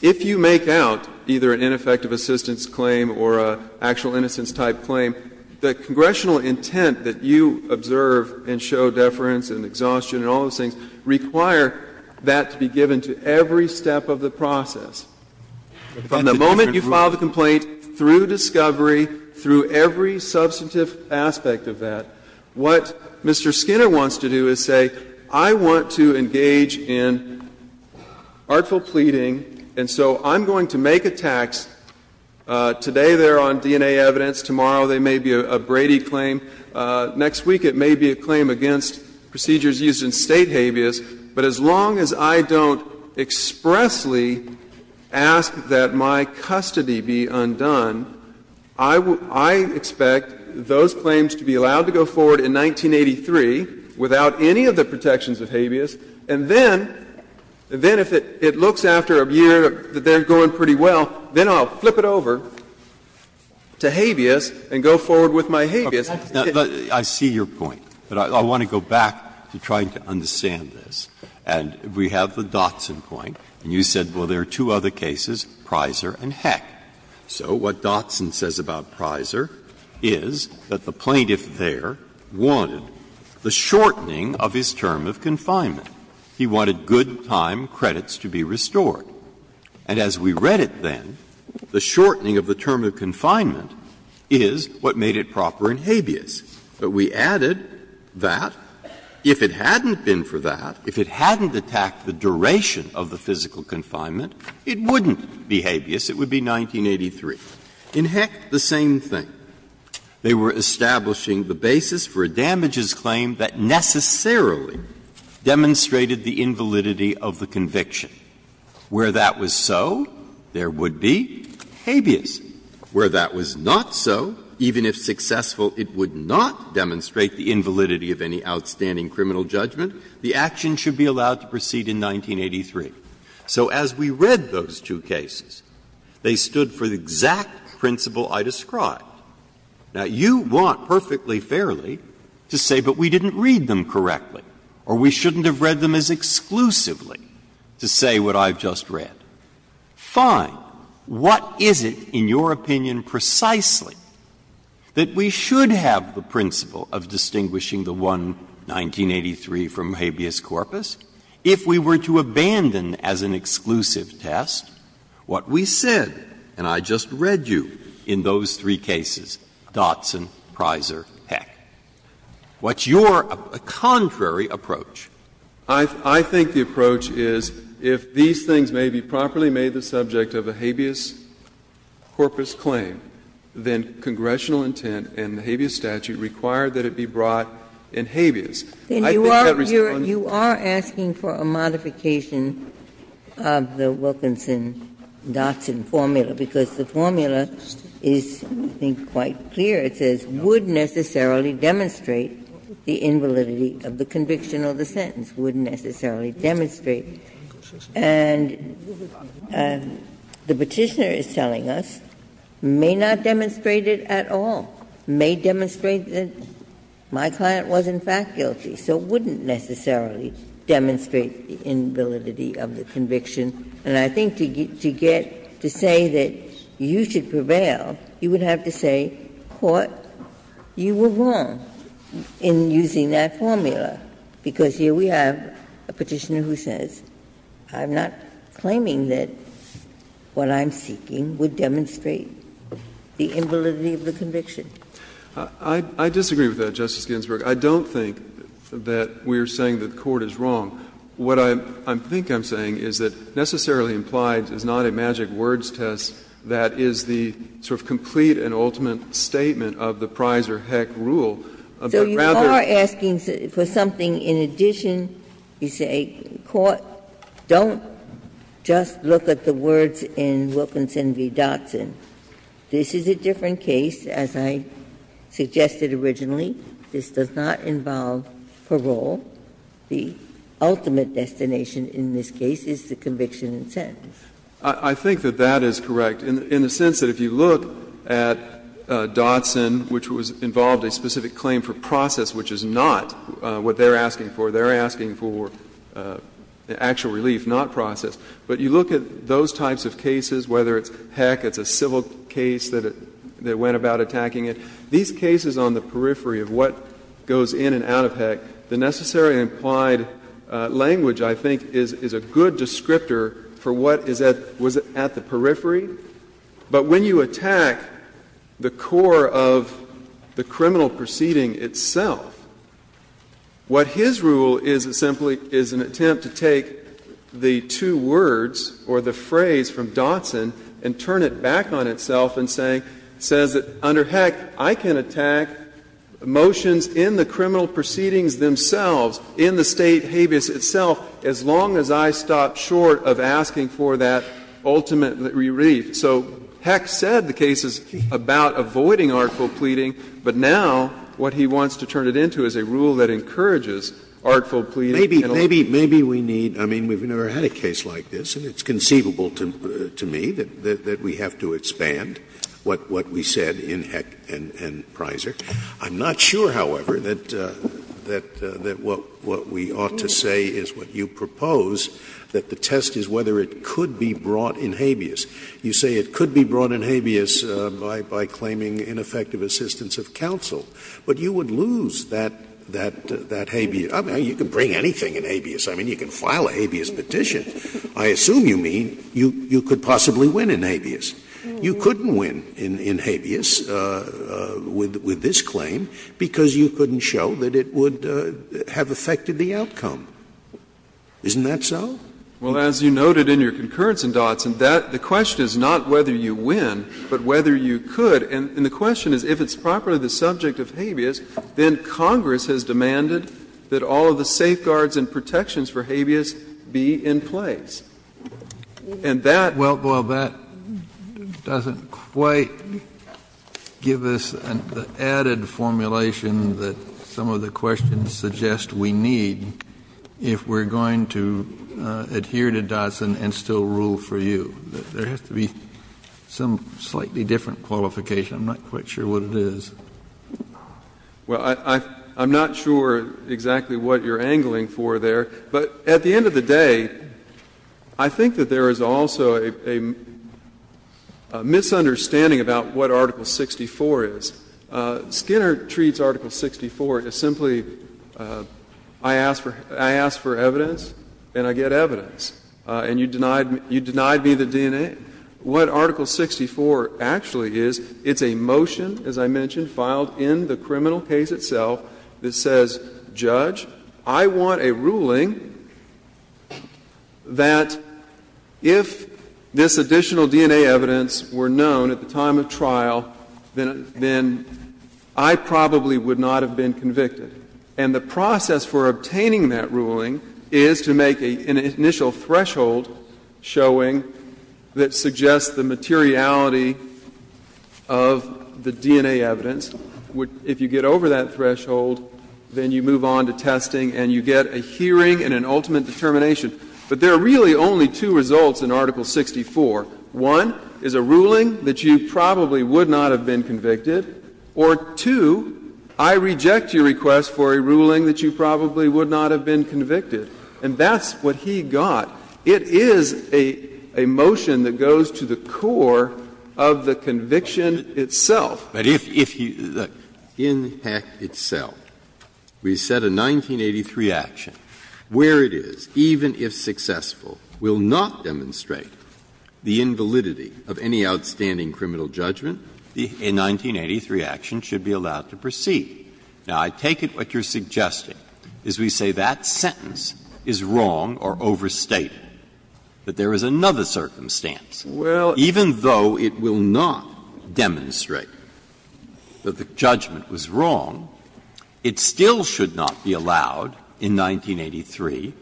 if you make out either an ineffective assistance claim or an actual innocence-type claim, the congressional intent that you observe and show deference and exhaustion and all those things require that to be given to every step of the process. From the moment you file the complaint, through discovery, through every substantive aspect of that, what Mr. Skinner wants to do is say, I want to engage in artful pleading, and so I'm going to make a tax. Today they're on DNA evidence, tomorrow they may be a Brady claim, next week it may be a claim against procedures used in State habeas, but as long as I don't expressly ask that my custody be undone, I expect those claims to be allowed to go forward in 1983 without any of the protections of habeas, and then if it looks after a year that they're going pretty well, then I'll flip it over to habeas and go forward with my habeas. Breyer, I see your point, but I want to go back to trying to understand this. And we have the Dotson point, and you said, well, there are two other cases, Prisor and Heck. So what Dotson says about Prisor is that the plaintiff there wanted the shortening of his term of confinement. He wanted good time credits to be restored. And as we read it then, the shortening of the term of confinement is what made it proper to return habeas. But we added that if it hadn't been for that, if it hadn't attacked the duration of the physical confinement, it wouldn't be habeas, it would be 1983. In Heck, the same thing. They were establishing the basis for a damages claim that necessarily demonstrated the invalidity of the conviction. Where that was so, there would be habeas. Where that was not so, even if successful, it would not demonstrate the invalidity of any outstanding criminal judgment. The action should be allowed to proceed in 1983. So as we read those two cases, they stood for the exact principle I described. Now, you want perfectly fairly to say, but we didn't read them correctly, or we shouldn't have read them as exclusively, to say what I've just read. Fine. What is it in your opinion precisely that we should have the principle of distinguishing the one 1983 from habeas corpus if we were to abandon as an exclusive test what we said, and I just read you, in those three cases, Dotson, Prysor, Heck? What's your contrary approach? I think the approach is if these things may be properly made the subject of a habeas corpus claim, then congressional intent and the habeas statute require that it be brought in habeas. I think that responds to the principle of distinguishing the one 1983 from habeas. Ginsburg. You are asking for a modification of the Wilkinson-Dotson formula, because the formula is, I think, quite clear. It says, would necessarily demonstrate the invalidity of the conviction or the sentence. Would necessarily demonstrate. And the Petitioner is telling us, may not demonstrate it at all. May demonstrate that my client was, in fact, guilty. So wouldn't necessarily demonstrate the invalidity of the conviction. And I think to get to say that you should prevail, you would have to say, Court, you were wrong in using that formula, because here we have a Petitioner who says, I'm not claiming that what I'm seeking would demonstrate the invalidity of the conviction. I disagree with that, Justice Ginsburg. I don't think that we are saying that the Court is wrong. What I think I'm saying is that necessarily implied is not a magic words test that is the sort of complete and ultimate statement of the prize or heck rule, but rather you are asking for something in addition. You say, Court, don't just look at the words in Wilkinson v. Dotson. This is a different case, as I suggested originally. This does not involve parole. The ultimate destination in this case is the conviction in sentence. I think that that is correct, in the sense that if you look at Dotson, which was involved a specific claim for process, which is not what they are asking for. They are asking for actual relief, not process. But you look at those types of cases, whether it's heck, it's a civil case that went about attacking it, these cases on the periphery of what goes in and out of heck, the necessary implied language, I think, is a good descriptor for what is at the periphery. But when you attack the core of the criminal proceeding itself, what his rule is simply is an attempt to take the two words or the phrase from Dotson and turn it back on itself and say, says that under heck, I can attack motions in the criminal proceedings themselves, in the State habeas itself, as long as I stop short of asking for that ultimate relief. So heck said the case is about avoiding artful pleading, but now what he wants to turn it into is a rule that encourages artful pleading. Scalia, maybe we need, I mean, we've never had a case like this, and it's conceivable to me that we have to expand what we said in Heck and Prysor. I'm not sure, however, that what we ought to say is what you propose, that the test is whether it could be brought in habeas. You say it could be brought in habeas by claiming ineffective assistance of counsel. But you would lose that habeas. I mean, you can bring anything in habeas. I mean, you can file a habeas petition. I assume you mean you could possibly win in habeas. You couldn't win in habeas with this claim because you couldn't show that it would have affected the outcome. Isn't that so? Well, as you noted in your concurrence in Dotson, that the question is not whether you win, but whether you could. And the question is, if it's properly the subject of habeas, then Congress has demanded that all of the safeguards and protections for habeas be in place. And that doesn't quite give us the added formulation that some of the questions suggest we need if we're going to adhere to Dotson and still rule for you. There has to be some slightly different qualification. I'm not quite sure what it is. Well, I'm not sure exactly what you're angling for there. But at the end of the day, I think that there is also a misunderstanding about what Article 64 is. Skinner treats Article 64 as simply, I ask for evidence and I get evidence. And you denied me the DNA. What Article 64 actually is, it's a motion, as I mentioned, filed in the criminal case itself that says, Judge, I want a ruling that if this additional DNA evidence were known at the time of trial, then I probably would not have been convicted. And the process for obtaining that ruling is to make an initial threshold showing that suggests the materiality of the DNA evidence. If you get over that threshold, then you move on to testing and you get a hearing and an ultimate determination. But there are really only two results in Article 64. One is a ruling that you probably would not have been convicted. Or two, I reject your request for a ruling that you probably would not have been convicted. And that's what he got. It is a motion that goes to the core of the conviction itself. Breyer, but if you look, in the act itself, we set a 1983 action. Where it is, even if successful, will not demonstrate the invalidity of any outstanding criminal judgment, a 1983 action should be allowed to proceed. Now, I take it what you're suggesting is we say that sentence is wrong or overstated, that there is another circumstance. Well, even though it will not demonstrate that the judgment was wrong, it still should not be allowed in 1983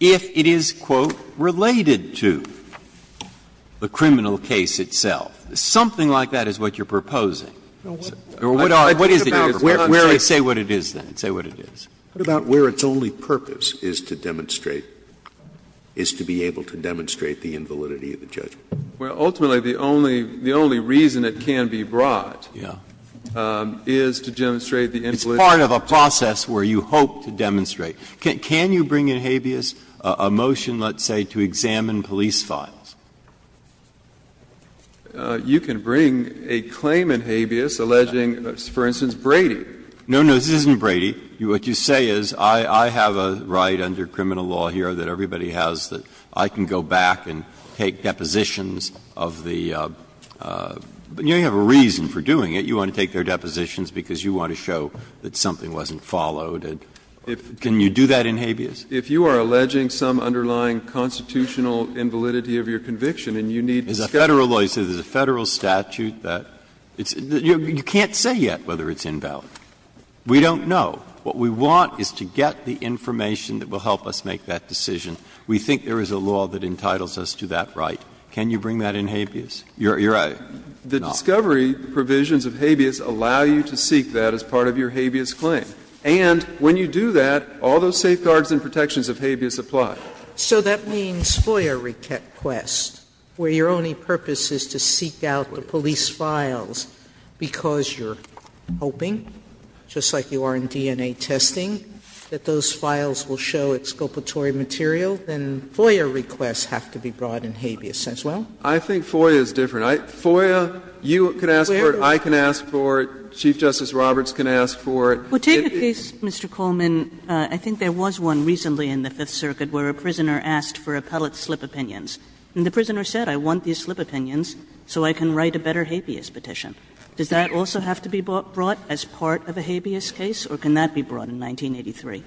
if it is, quote, related to the criminal case itself. Something like that is what you're proposing. Or what is it? Say what it is, then, say what it is. What about where its only purpose is to demonstrate, is to be able to demonstrate the invalidity of the judgment? Well, ultimately, the only reason it can be brought is to demonstrate the invalidity of the judgment. It's part of a process where you hope to demonstrate. Can you bring in habeas a motion, let's say, to examine police files? You can bring a claim in habeas alleging, for instance, Brady. No, no, this isn't Brady. What you say is I have a right under criminal law here that everybody has that I can go back and take depositions of the you know, you have a reason for doing it. You want to take their depositions because you want to show that something wasn't followed. Can you do that in habeas? If you are alleging some underlying constitutional invalidity of your conviction and you need to discuss it. As a Federal lawyer, you say there's a Federal statute that you can't say yet whether it's invalid. We don't know. What we want is to get the information that will help us make that decision. We think there is a law that entitles us to that right. Can you bring that in habeas? You're right. The discovery provisions of habeas allow you to seek that as part of your habeas claim. And when you do that, all those safeguards and protections of habeas apply. So that means FOIA request, where your only purpose is to seek out the police files because you're hoping, just like you are in DNA testing, that those files will show exculpatory material, then FOIA requests have to be brought in habeas as well? I think FOIA is different. FOIA, you can ask for it, I can ask for it, Chief Justice Roberts can ask for it. Well, take the case, Mr. Coleman, I think there was one recently in the Fifth Circuit where a prisoner asked for appellate slip opinions. And the prisoner said, I want the slip opinions so I can write a better habeas petition. Does that also have to be brought as part of a habeas case, or can that be brought in 1983?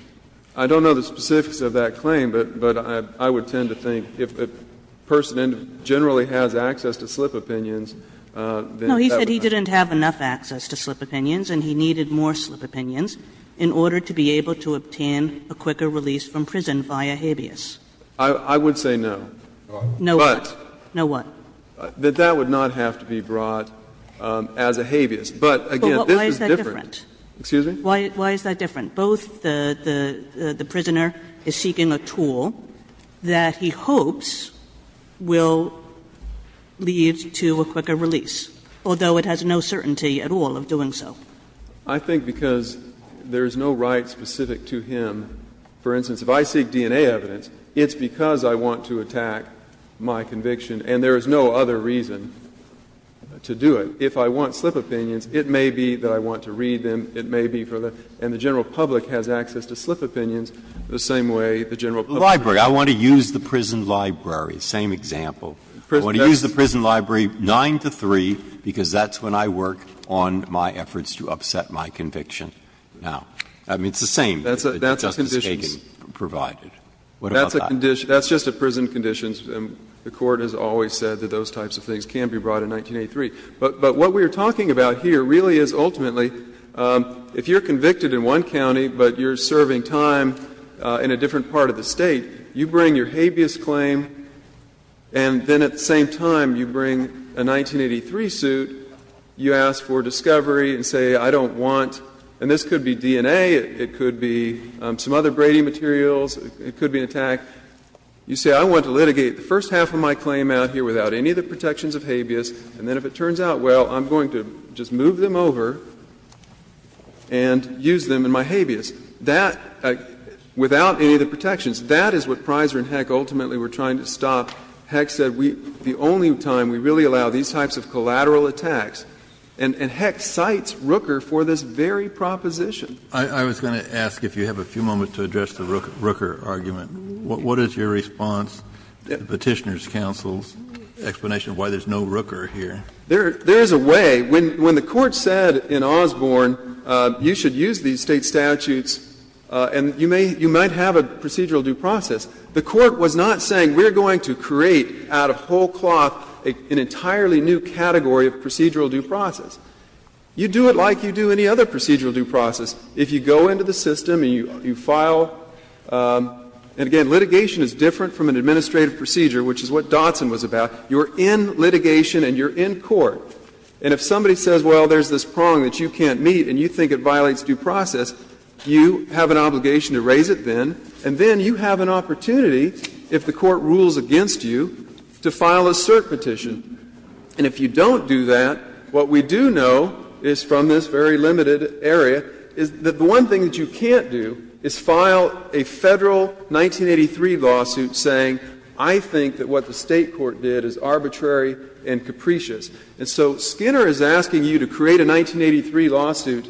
I don't know the specifics of that claim, but I would tend to think if a person generally has access to slip opinions, then that would be fine. No, he said he didn't have enough access to slip opinions and he needed more slip opinions in order to be able to obtain a quicker release from prison via habeas. I would say no. No, what? No, what? That that would not have to be brought as a habeas. But again, this is different. But why is that different? Excuse me? Why is that different? Both the prisoner is seeking a tool that he hopes will lead to a quicker release. Although it has no certainty at all of doing so. I think because there is no right specific to him. For instance, if I seek DNA evidence, it's because I want to attack my conviction and there is no other reason to do it. If I want slip opinions, it may be that I want to read them. It may be for the general public has access to slip opinions the same way the general public has access to slip opinions. The same example. I want to use the prison library 9 to 3 because that's when I work on my efforts to upset my conviction. Now, I mean, it's the same that Justice Kagan provided. What about that? That's just a prison condition. The Court has always said that those types of things can be brought in 1983. But what we are talking about here really is ultimately if you are convicted in one county but you are serving time in a different part of the State, you bring your habeas claim, and then at the same time you bring a 1983 suit, you ask for discovery and say, I don't want, and this could be DNA, it could be some other Brady materials, it could be an attack, you say, I want to litigate the first half of my claim out here without any of the protections of habeas, and then if it turns out well, I'm going to just move them over and use them in my habeas. That, without any of the protections, that is what Pryser and Heck ultimately were trying to stop. Heck said the only time we really allow these types of collateral attacks, and Heck cites Rooker for this very proposition. Kennedy. Kennedy. I was going to ask if you have a few moments to address the Rooker argument. What is your response to the Petitioner's counsel's explanation why there is no Rooker here? There is a way. When the Court said in Osborne, you should use these State statutes and you may, you might have a procedural due process, the Court was not saying we are going to create out of whole cloth an entirely new category of procedural due process. You do it like you do any other procedural due process. If you go into the system and you file, and again, litigation is different from an administrative procedure, which is what Dotson was about. You are in litigation and you are in court. And if somebody says, well, there is this prong that you can't meet and you think it violates due process, you have an obligation to raise it then, and then you have an opportunity, if the Court rules against you, to file a cert petition. And if you don't do that, what we do know is from this very limited area is that the one thing that you can't do is file a Federal 1983 lawsuit saying, I think that what the State court did is arbitrary and capricious. And so Skinner is asking you to create a 1983 lawsuit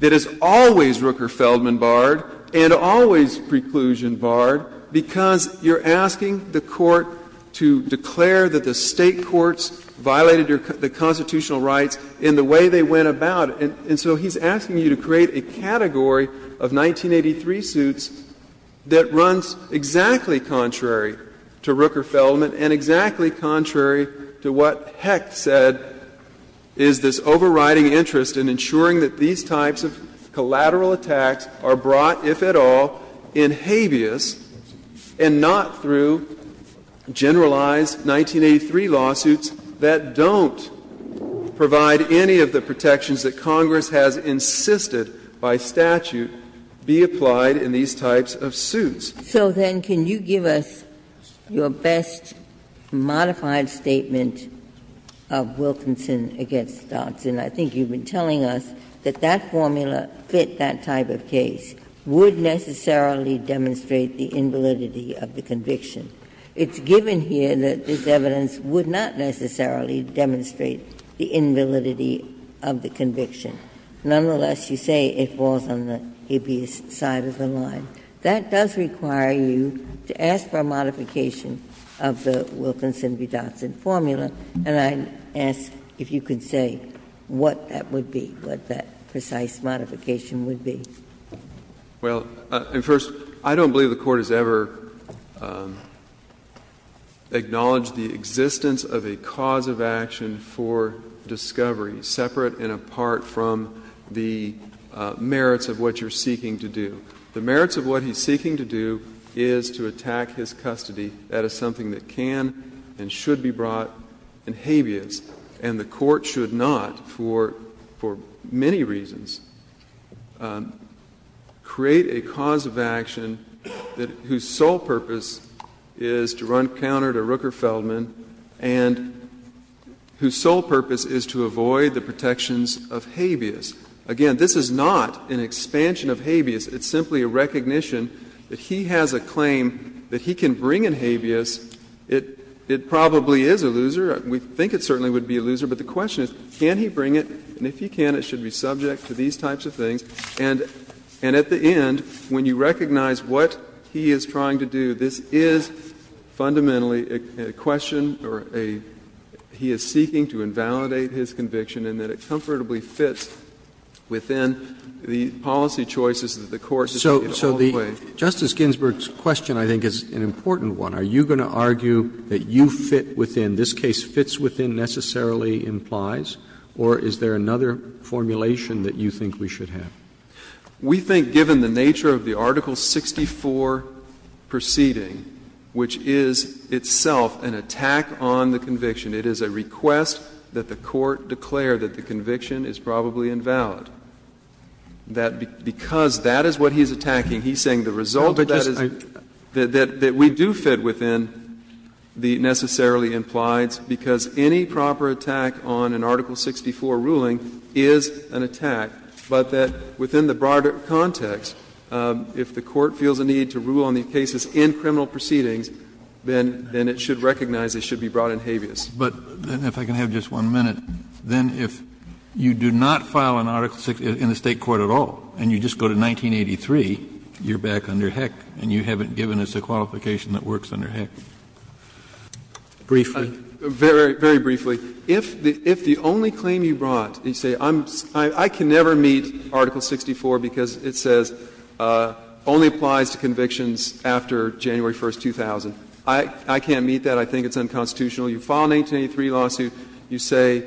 that is always Rooker-Feldman barred and always preclusion barred because you are asking the Court to declare that the State courts violated the constitutional rights in the way they went about it. And so he is asking you to create a category of 1983 suits that runs exactly contrary to Rooker-Feldman and exactly contrary to what Hecht said is this overriding interest in ensuring that these types of collateral attacks are brought, if at all, in habeas and not through generalized 1983 lawsuits that don't provide any of the protections that Congress has insisted by statute be applied in these types of suits. Ginsburg. So then can you give us your best modified statement of Wilkinson v. Dodson? I think you've been telling us that that formula fit that type of case, would necessarily demonstrate the invalidity of the conviction. It's given here that this evidence would not necessarily demonstrate the invalidity of the conviction. Nonetheless, you say it falls on the habeas side of the line. That does require you to ask for a modification of the Wilkinson v. Dodson formula, and I ask if you could say what that would be, what that precise modification would be. Well, first, I don't believe the Court has ever acknowledged the existence of a cause of action for discovery separate and apart from the merits of what you're seeking to do. The merits of what he's seeking to do is to attack his custody. That is something that can and should be brought in habeas, and the Court should not, for many reasons, create a cause of action whose sole purpose is to run counter to Rooker-Feldman and whose sole purpose is to avoid the protections of habeas. Again, this is not an expansion of habeas. It's simply a recognition that he has a claim that he can bring in habeas. It probably is a loser. We think it certainly would be a loser, but the question is, can he bring it, and if he can, it should be subject to these types of things. And at the end, when you recognize what he is trying to do, this is fundamentally a question or a he is seeking to invalidate his conviction and that it comfortably fits within the policy choices that the Court has made all the way. Roberts. So the Justice Ginsburg's question, I think, is an important one. Are you going to argue that you fit within, this case fits within necessarily implies, or is there another formulation that you think we should have? We think, given the nature of the Article 64 proceeding, which is itself an attack on the conviction, it is a request that the Court declare that the conviction is probably invalid. That because that is what he is attacking, he is saying the result of that is that we do fit within the necessarily implies, because any proper attack on an Article 64 ruling is an attack, but that within the broader context, if the Court feels a need to rule on these cases in criminal proceedings, then it should recognize it should be brought in habeas. Kennedy. But if I can have just one minute, then if you do not file an Article 64 in the State court at all and you just go to 1983, you are back under heck and you haven't given us a qualification that works under heck. Briefly. Very, very briefly. If the only claim you brought, you say I can never meet Article 64 because it says only applies to convictions after January 1st, 2000, I can't meet that, I think it's unconstitutional. You file an 1983 lawsuit, you say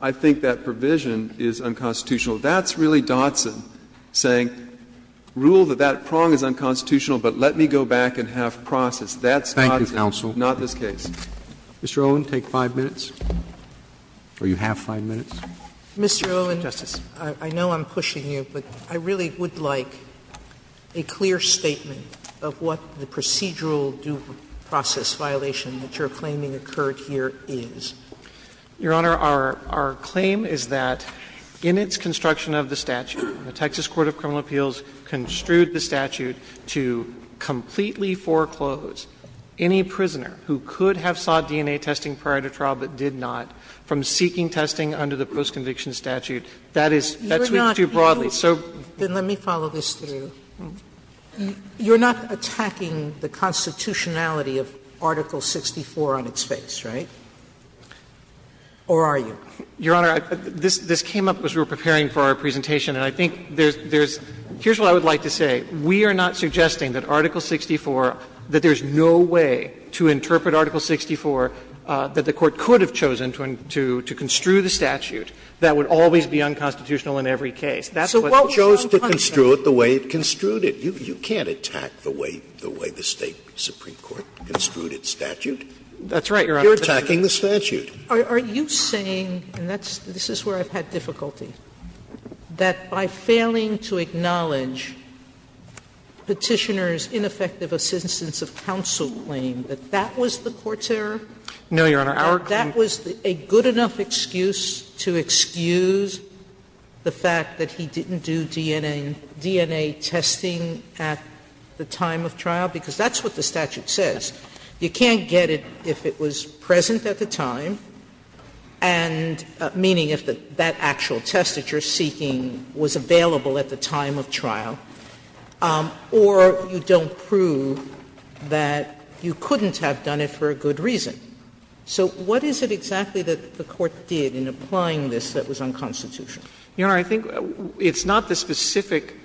I think that provision is unconstitutional. That's really Dotson saying rule that that prong is unconstitutional, but let me go back and have process. That's Dotson. Roberts. Thank you, counsel. Not this case. Mr. Owen, take 5 minutes, or you have 5 minutes. Mr. Owen, I know I'm pushing you, but I really would like a clear statement of what the procedural due process violation that you're claiming occurred here is. Your Honor, our claim is that in its construction of the statute, the Texas Court of Criminal Appeals construed the statute to completely foreclose any prisoner who could have sought DNA testing prior to trial but did not from seeking testing under the postconviction statute. That is too broadly. So. Sotomayor, then let me follow this through. You're not attacking the constitutionality of Article 64 on its face, right? Or are you? Your Honor, this came up as we were preparing for our presentation, and I think there's – here's what I would like to say. We are not suggesting that Article 64, that there's no way to interpret Article 64 that the Court could have chosen to construe the statute that would always be unconstitutional in every case. That's what we're trying to say. Scalia, so what chose to construe it the way it construed it? You can't attack the way the State supreme court construed its statute. That's right, Your Honor. You're attacking the statute. Are you saying, and that's – this is where I've had difficulty, that by failing to acknowledge Petitioner's ineffective assistance of counsel claim, that that was the court's error? No, Your Honor. That was a good enough excuse to excuse the fact that he didn't do DNA testing at the time of trial, because that's what the statute says. You can't get it if it was present at the time, and – meaning if that actual test that you're seeking was available at the time of trial, or you don't prove that you couldn't have done it for a good reason. So what is it exactly that the court did in applying this that was unconstitutional? Your Honor, I think it's not the specific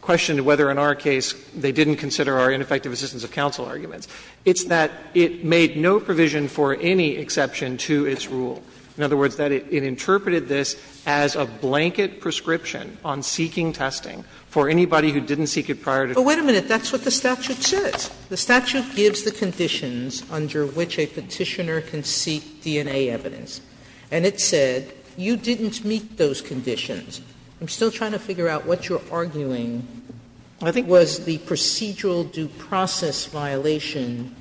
question to whether in our case they didn't consider our ineffective assistance of counsel arguments. It's that it made no provision for any exception to its rule. In other words, that it interpreted this as a blanket prescription on seeking testing for anybody who didn't seek it prior to trial. But wait a minute. That's what the statute says. The statute gives the conditions under which a Petitioner can seek DNA evidence, and it said you didn't meet those conditions. I'm still trying to figure out what you're arguing, I think, was the procedural due process violation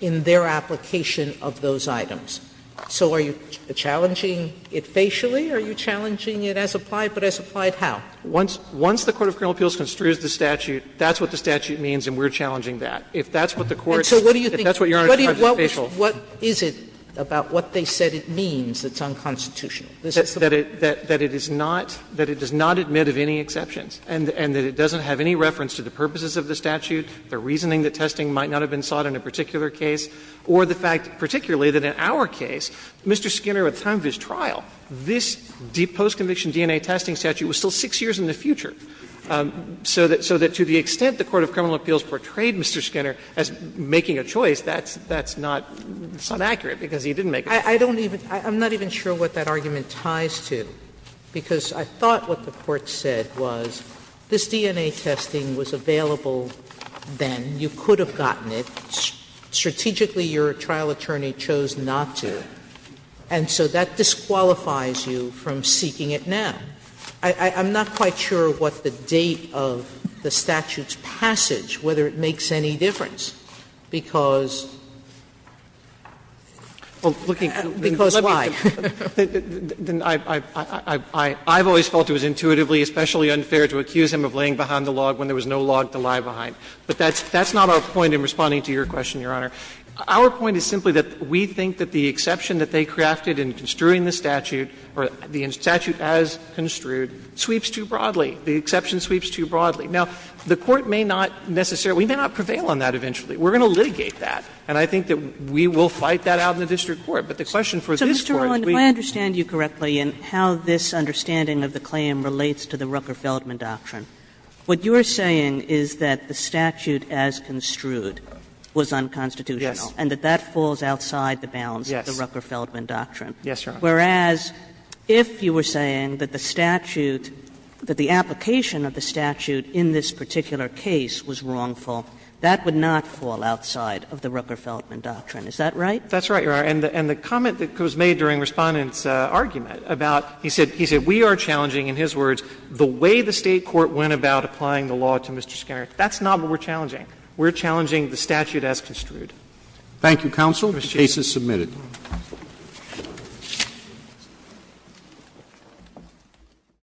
in their application of those items. So are you challenging it facially? Are you challenging it as applied, but as applied how? Once the Court of Criminal Appeals construes the statute, that's what the statute means, and we're challenging that. If that's what the Court's, if that's what Your Honor's trying to do, it's facial. Sotomayor, what is it about what they said it means that's unconstitutional? That it is not, that it does not admit of any exceptions, and that it doesn't have any reference to the purposes of the statute, the reasoning that testing might not have been sought in a particular case, or the fact particularly that in our case, Mr. Skinner, at the time of his trial, this post-conviction DNA testing statute was still 6 years in the future. So that to the extent the Court of Criminal Appeals portrayed Mr. Skinner as making a choice, that's not accurate, because he didn't make a choice. Sotomayor, I'm not even sure what that argument ties to, because I thought what the Court said was this DNA testing was available then, you could have gotten it, strategically your trial attorney chose not to, and so that disqualifies you from seeking it now. I'm not quite sure what the date of the statute's passage, whether it makes any difference, because, because why? I've always felt it was intuitively especially unfair to accuse him of laying behind the log when there was no log to lie behind. But that's not our point in responding to your question, Your Honor. Our point is simply that we think that the exception that they crafted in construing the statute, or the statute as construed, sweeps too broadly, the exception sweeps too broadly. Now, the Court may not necessarily, we may not prevail on that eventually. We're going to litigate that, and I think that we will fight that out in the district court. But the question for this Court is we. Kagan, if I understand you correctly in how this understanding of the claim relates to the Rucker-Feldman doctrine, what you are saying is that the statute as construed was unconstitutional, and that that falls outside the bounds of the Rucker-Feldman doctrine. Yes, Your Honor. Whereas, if you were saying that the statute, that the application of the statute in this particular case was wrongful, that would not fall outside of the Rucker-Feldman doctrine. Is that right? That's right, Your Honor. And the comment that was made during Respondent's argument about, he said, we are challenging in his words the way the State court went about applying the law to Mr. Skinner. That's not what we're challenging. We're challenging the statute as construed. Thank you, counsel. The case is submitted.